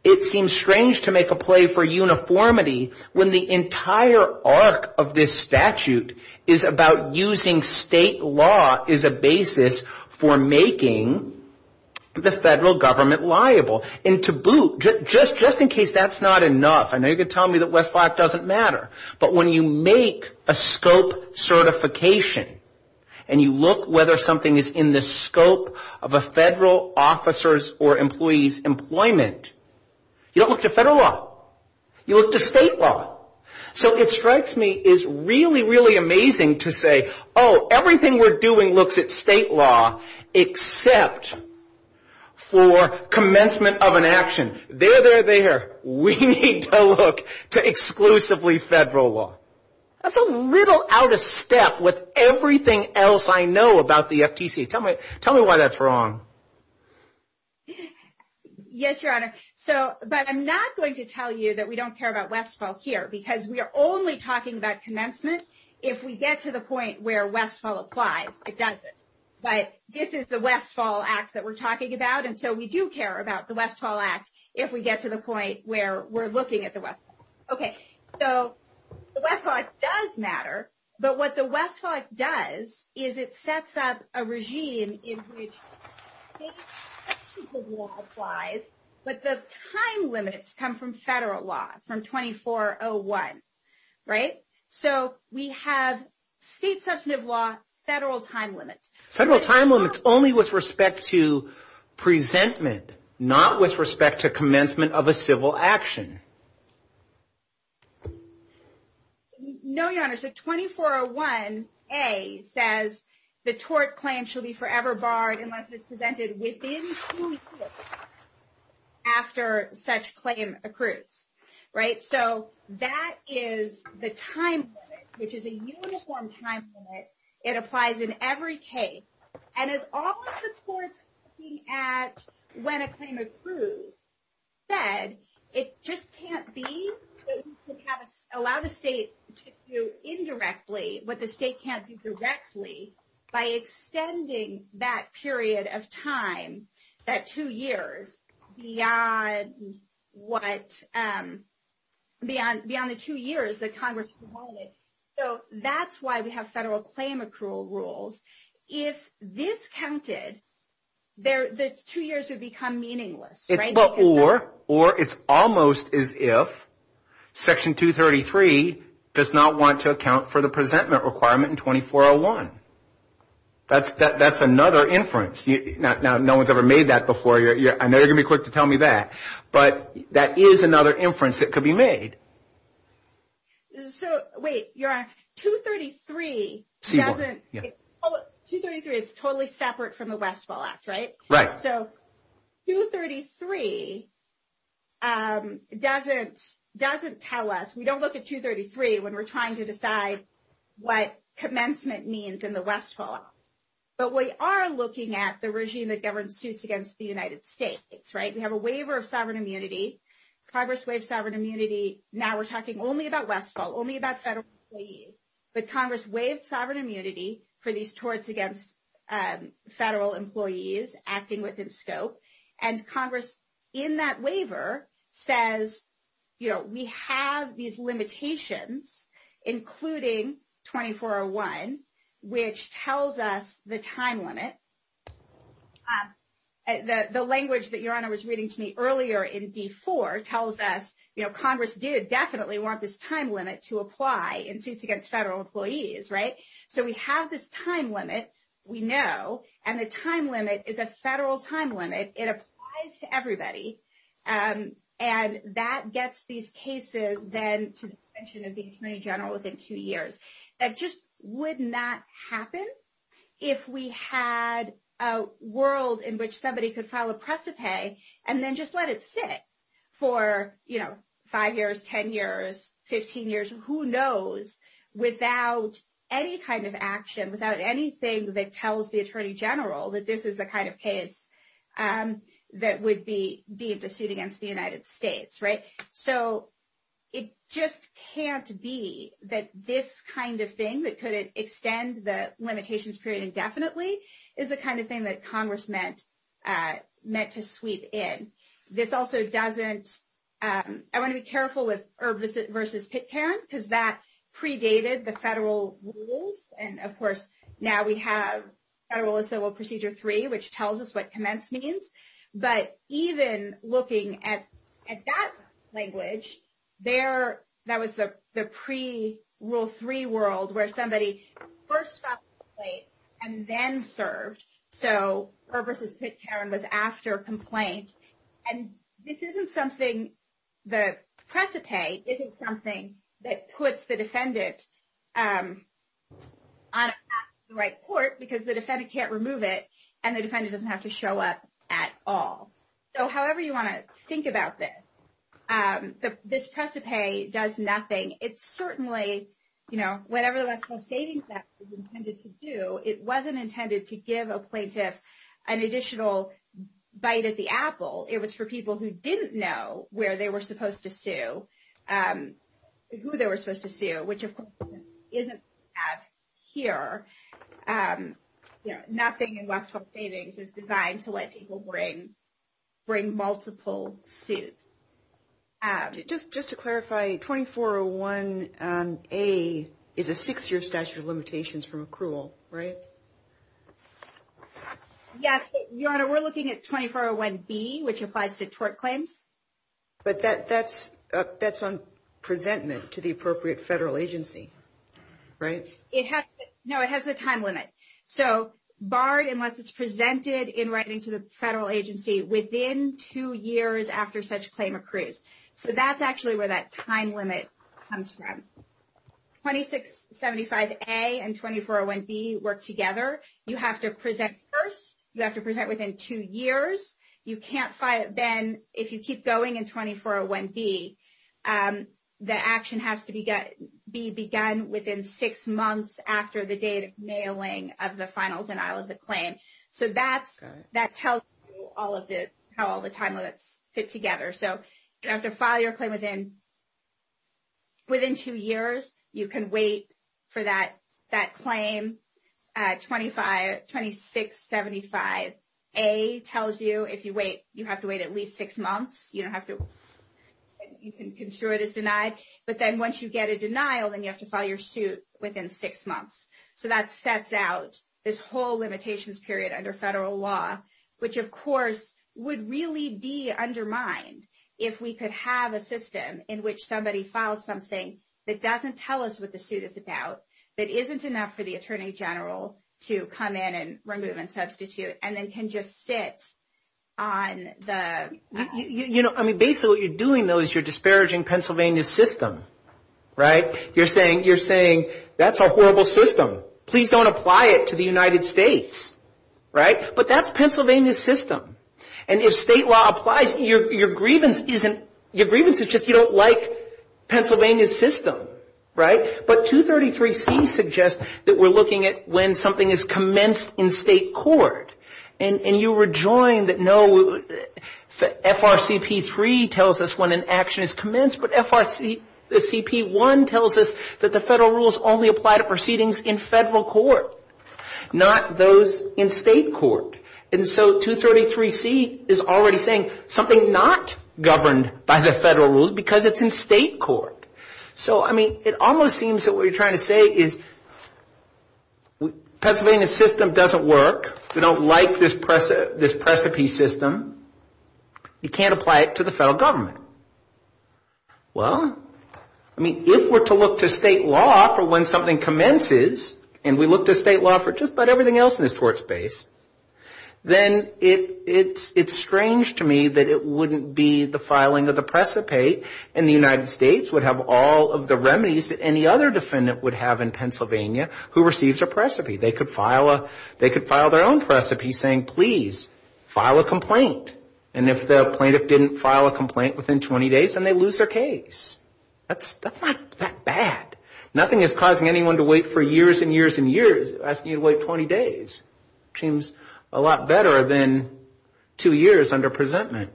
it seems strange to make a play for uniformity when the entire arc of this statute is about using state law as a basis for making the federal government liable and to boot just just in case that's not enough i know you're going to tell me that less black doesn't matter but when you make a scope certification and you look whether something is in the scope of a federal officers or employees employment you don't look to federal law you look to state law so it strikes me is really really amazing to say oh everything we're doing looks at state law except for commencement of an action there they're there we need to look to exclusively federal law that's a little out of step with everything else i know about the ftc tell me tell me why that's wrong yes your honor so but i'm not going to tell you that we don't care about westfall here because we are only talking about commencement if we get to the point where westfall applies it doesn't but this is the westfall act that we're talking about and so we do care about the westfall act if we get to the point where we're looking at the west okay so the west thought does matter but what the west thought does is it sets up a regime in which the law applies but the time limits come from federal law from 2401 right so we have state substantive law federal time limits federal time limits only with respect to presentment not with respect to commencement of a civil action no your honor so 2401a says the tort claim shall be forever barred unless it's presented within two weeks after such claim accrues right so that is the time which is a uniform time limit it applies in every case and as all the courts looking at when a claim accrues said it just can't be allowed the state to do indirectly what the state can't do directly by extending that period of time that two years beyond what um beyond beyond the two years that congress wanted so that's why we have federal claim accrual rules if this counted there the two years would become meaningless or or it's almost as if section 233 does not want to account for the presentment in 2401 that's that that's another inference now no one's ever made that before you're i know you're gonna be quick to tell me that but that is another inference that could be made so wait you're on 233 doesn't oh 233 is totally separate from the west fall act right right so 233 um doesn't doesn't tell us we don't look at 233 when we're trying to decide what commencement means in the west fall but we are looking at the regime that governs suits against the united states right we have a waiver of sovereign immunity congress waived sovereign immunity now we're talking only about westfall only about federal employees but congress waived sovereign immunity for these towards against federal employees acting within scope and congress in that waiver says you know we have these limitations including 2401 which tells us the time limit the the language that your honor was reading to me earlier in b4 tells us you know so we have this time limit we know and the time limit is a federal time limit it applies to everybody um and that gets these cases then suspension of the attorney general within two years that just would not happen if we had a world in which somebody could file a precipice and then just let it sit for you know five years 10 years 15 years who knows without any kind of action without anything that tells the attorney general that this is the kind of case um that would be be of the suit against the united states right so it just can't be that this kind of thing that could extend the limitations period indefinitely is the kind of thing that congress meant uh meant to sweep in this also doesn't um i want to be careful with versus pit parents because that predated the federal rules and of course now we have federal civil procedure three which tells us what commence means but even looking at at that language there that was the the pre-rule three world where somebody first stopped and then served so something that puts the defendant um on the right court because the defendant can't remove it and the defendant doesn't have to show up at all so however you want to think about this um this precipice does nothing it's certainly you know whatever that's the savings that is intended to do it wasn't intended to give a plaintiff an additional bite at the apple it for people who didn't know where they were supposed to sue um who they were supposed to sue which of course isn't at here um you know nothing in westhoff savings is designed to let people bring bring multiple suits um just just to clarify 2401 um a is a six-year statute of claims but that that's that's on presentment to the appropriate federal agency right it has no it has a time limit so barred unless it's presented in writing to the federal agency within two years after such claim accrues so that's actually where that time limit comes from 26 75a and 2401b work together you have to present first you have to present within two years you can't fight it then if you keep going in 2401b um the action has to be get be begun within six months after the date of nailing of the final denial of the claim so that's that tells you all of this how all the time will it fit together so you have to file your claim within within two years you can wait for that that claim at 25 26 75 a tells you if you wait you have to wait at least six months you don't have to you can ensure it is denied but then once you get a denial then you have to file your suit within six months so that sets out this whole limitations period under federal law which of course would really be undermined if we could have a system in which somebody files something that doesn't tell us what the suit is about that isn't enough for the attorney general to come in and remove and substitute and then can just sit on the you know i mean basically what you're doing though is you're disparaging pennsylvania's system right you're saying you're saying that's a horrible system please don't apply it to the united states right but that's pennsylvania's system and if state law applies your your disagreement is just you don't like pennsylvania's system right but 233c suggests that we're looking at when something is commenced in state court and and you rejoin that no frcp3 tells us when an action is commenced but frcp1 tells us that the federal rules only apply to proceedings in federal court not those in state court and so 233c is already saying something not governed by the federal rules because it's in state court so i mean it almost seems that what you're trying to say is pennsylvania's system doesn't work we don't like this press this precipice system you can't apply it to the federal government well i mean if we're to look to state law for when something commences and we look to state law for just about everything else in this court space then it it's it's strange to me that it wouldn't be the filing of the precipate and the united states would have all of the remedies that any other defendant would have in pennsylvania who receives a precipice they could file a they could file their own precipice saying please file a complaint and if the plaintiff didn't file a complaint within 20 days then they lose their that's that's not that bad nothing is causing anyone to wait for years and years and years asking you to wait 20 days seems a lot better than two years under presentment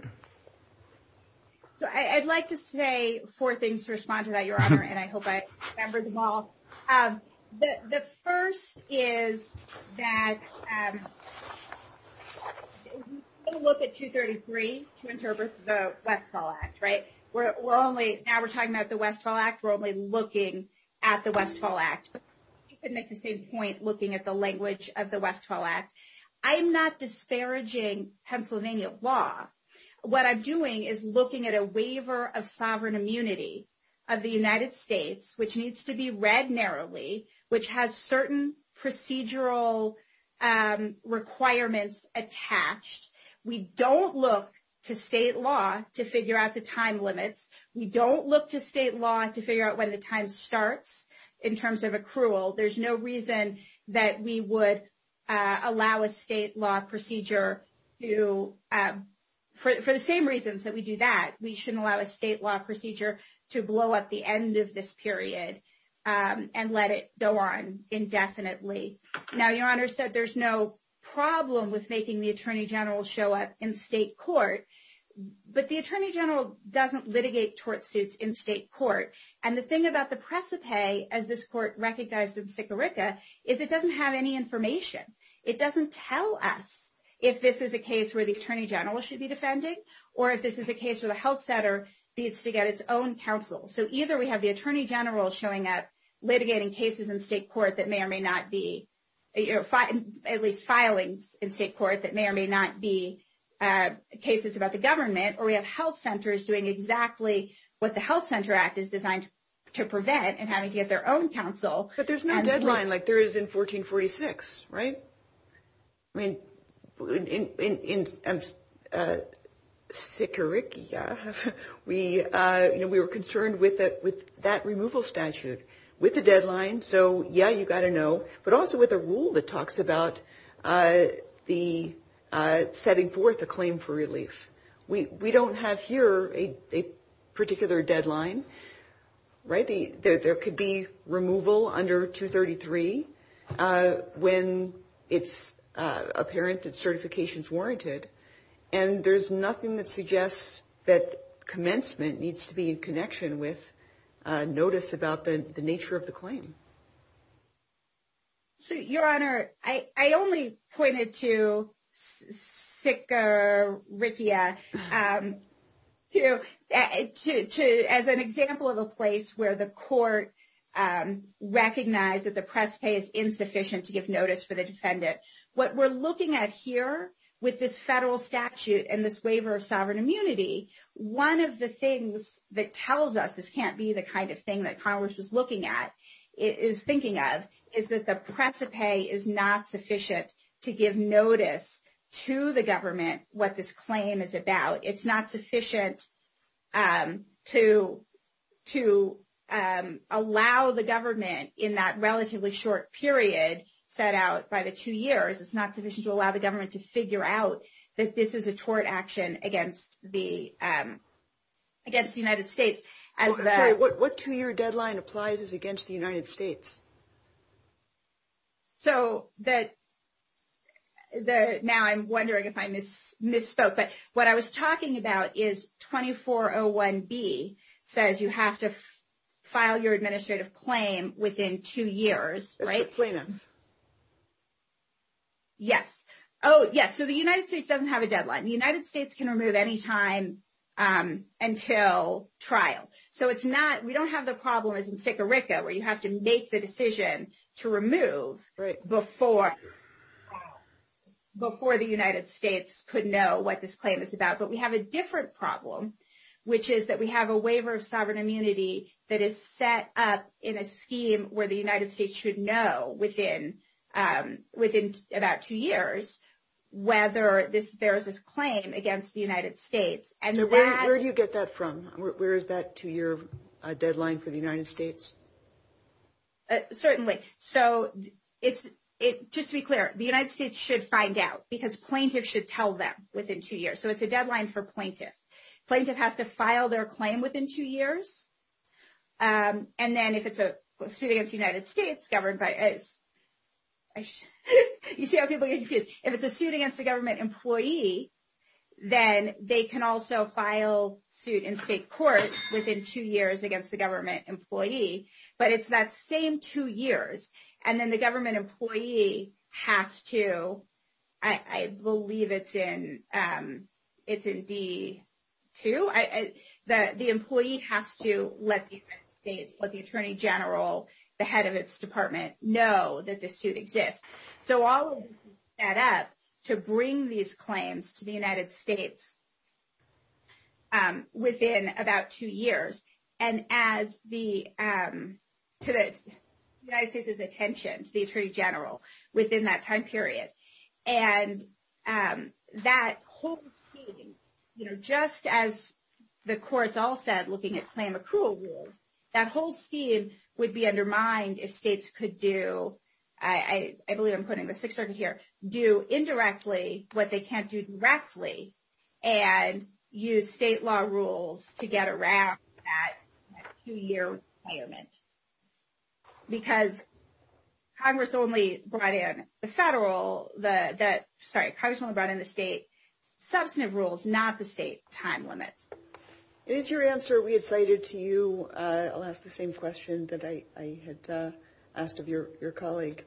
so i i'd like to say four things to respond to that your honor and i hope i remembered them all um the the first is that um i'm going to look at 233 to interpret the westfall act right we're only now we're talking about the westfall act we're only looking at the westfall act you could make the same point looking at the language of the westfall act i'm not disparaging pennsylvania law what i'm doing is looking at a waiver of sovereign immunity of the united states which needs to be read narrowly which has certain procedural requirements attached we don't look to state law to figure out the time limits we don't look to state law to figure out when the time starts in terms of accrual there's no reason that we would allow a state law procedure to for the same reasons that we do that we shouldn't allow a state law procedure to blow up the end of this period um and let it go on indefinitely now your honor said there's no problem with making the attorney general show up in state court but the attorney general doesn't litigate tort suits in state court and the thing about the precipice as this court recognized in sicarica is it doesn't have any information it doesn't tell us if this is a case where the attorney general should be defended or if this is a case of health center needs to get its own counsel so either we have the attorney general showing up litigating cases in state court that may or may not be at least filing in state court that may or may not be uh cases about the government or we have health centers doing exactly what the health center act is designed to prevent and having to get their own counsel but there's no deadline like there is in 1446 right i mean in sicarica we uh you know we were concerned with that with that removal statute with the deadline so yeah you got to know but also with a rule that talks about uh the uh setting forth a claim for release we we don't have here a particular deadline right there could be removal under 233 uh when it's uh apparent that certification's warranted and there's nothing that suggests that commencement needs to be in connection with uh notice about the the nature of the claim so your honor i i only pointed to sicker rickia um to to to as an example of a place where the court um recognized that the press pay is insufficient to give notice for the defendant what we're looking at here with this federal statute and this waiver of sovereign immunity one of the things that tells us this can't be the kind of thing that congress is looking at is thinking of is that the precipice is not sufficient to give notice to the government what this claim is about it's not sufficient um to to um allow the government in that relatively short period set out by the two years it's not sufficient to allow the government to figure out that this is a tort action against the um against the united states as what what two-year deadline applies is against the united states so that the now i'm wondering if i miss misspoke but what i was talking about is 2401b says you have to file your administrative claim within two years right yes oh yes so the united states doesn't have a deadline the united states can remove any time um until trial so it's not we don't have the problem is in sic a ricka where you have to make the decision to remove right before before the united states could know what this claim is about but we have a different problem which is that we have a waiver of sovereign immunity that is set up in a scheme where the united states should know within um within about two years whether this bears this claim against the united states and where do you get that from where is that two-year deadline for the united states certainly so it's it just be clear the united states should find out because plaintiff should tell them within two years so it's a deadline for plaintiff plaintiff have to file their claim within two years um and then if it's a suit against the united states governed by it you see if it's a suit against the government employee then they can also file suit in state court within two years against the government employee but it's that same two years and then the government employee has to i i believe it's in um it's in d2 i i the the employee has to let the states let the attorney general the head of its department know that this suit exists so all of this is set up to bring these claims to the united states um within about two years and as the um to the united states's attention the attorney general within that time period and um that quote you know just as the courts all said looking at accrual rules that whole scheme would be undermined if states could do i i believe i'm putting the fixer here do indirectly what they can't do directly and use state law rules to get around that two-year payment because congress only brought in the federal the the sorry congressman brought in the state substantive rules not the state time limit and it's your answer we excited to you uh i'll ask the same question that i i had uh asked of your your colleague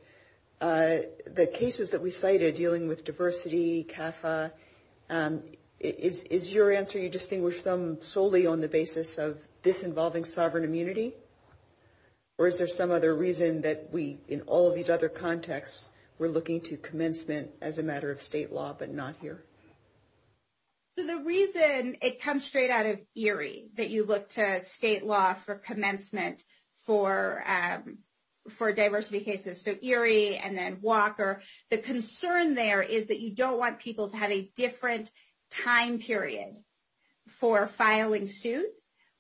uh the cases that we cited dealing with diversity katha um is is your answer you distinguish them solely on the basis of this involving sovereign immunity or is there some other reason that we in all these other contexts we're looking to commencement as a matter of state law but not here so the reason it comes straight out of erie that you look to state law for commencement for um for diversity cases so erie and then walker the concern there is that you don't want people to have a different time period for filing suits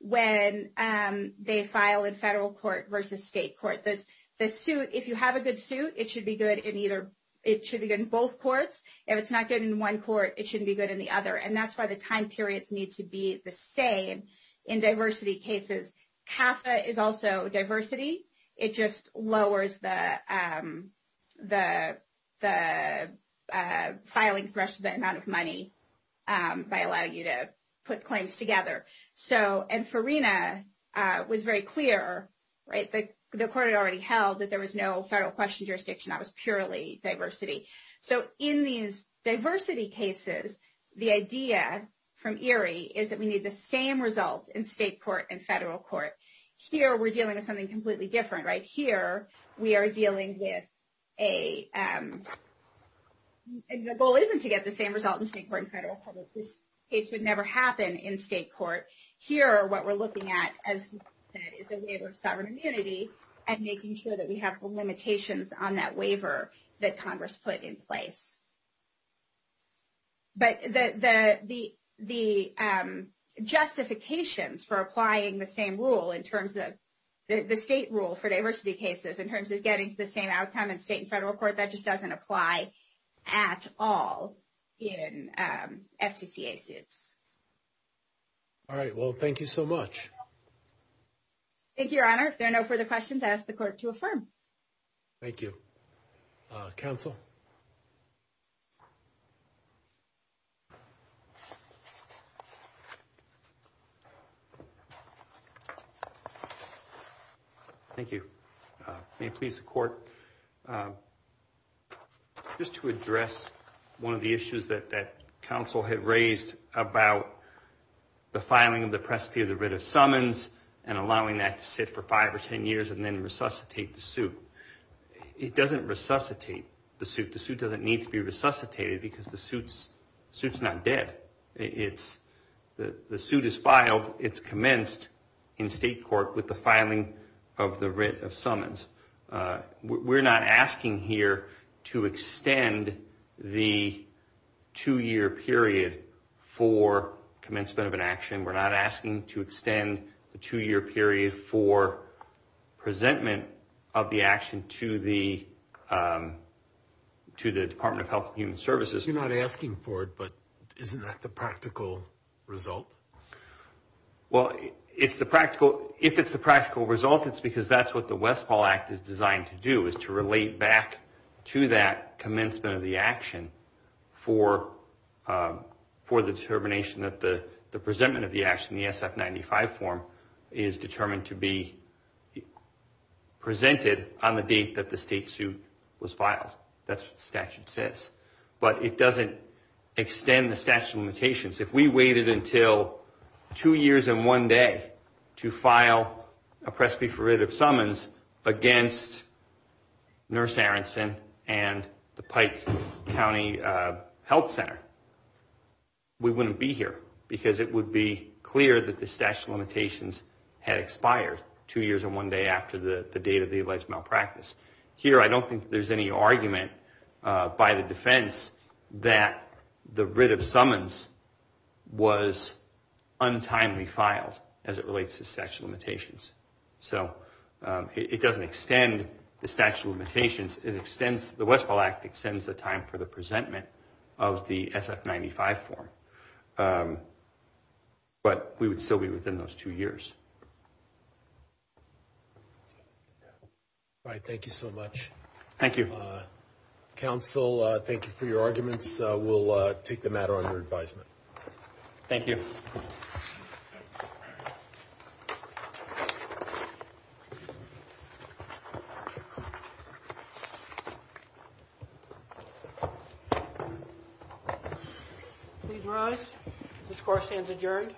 when um they file in federal court versus state court the the suit if you have a good suit it should be good in either it should in one court it shouldn't be good in the other and that's why the time periods need to be the same in diversity cases katha is also diversity it just lowers the um the the uh filing pressure the amount of money um by allowing you to put claims together so and farina uh was very clear right the court had already held that there was no federal question jurisdiction that was purely diversity so in these diversity cases the idea from erie is that we need the same results in state court and federal court here we're dealing with something completely different right here we are dealing with a um the goal isn't to get the same result in state court and federal public this case would never happen in state court here what we're looking at as is a waiver of that congress put in place but the the the um justifications for applying the same rule in terms of the state rule for diversity cases in terms of getting to the same outcome in state and federal court that just doesn't apply at all in um fdca suits all right well thank you so much thank you your honor if there are no further questions ask the court to affirm thank you council thank you uh may it please the court just to address one of the issues that that council had raised about the filing of the presbyter's writ of summons and allowing that to sit for five or ten years and then resuscitate the suit it doesn't resuscitate the suit the suit doesn't need to be resuscitated because the suit's suit's not dead it's the the suit is filed it's commenced in state court with the filing of the writ of summons uh we're not asking here to extend the two-year period for commencement of an action we're not asking to extend the two-year period for presentment of the action to the um to the department of health and human services you're not asking for it but isn't that the practical result well it's the practical if it's the practical result it's because that's what the westfall act is designed to do is to relate back to that commencement of the action for um for the determination that the the presentment of the action the sf95 form is determined to be presented on the date that the state suit was filed that's what the statute says but it doesn't extend the statute limitations if we waited until two years and one day to file a presby for writ of summons against nurse aronson and the pikes county uh health center we wouldn't be here because it would be clear that the statute limitations had expired two years and one day after the the date of the alleged malpractice here i don't think there's any argument uh by the defense that the writ of summons was untimely filed as it relates to limitations so it doesn't extend the statute limitations it extends the westfall act extends the time for the presentment of the sf95 form but we would still be within those two years all right thank you so much thank you uh council uh thank you for your arguments we'll uh take the matter under advisement thank you please rise this course stands adjourned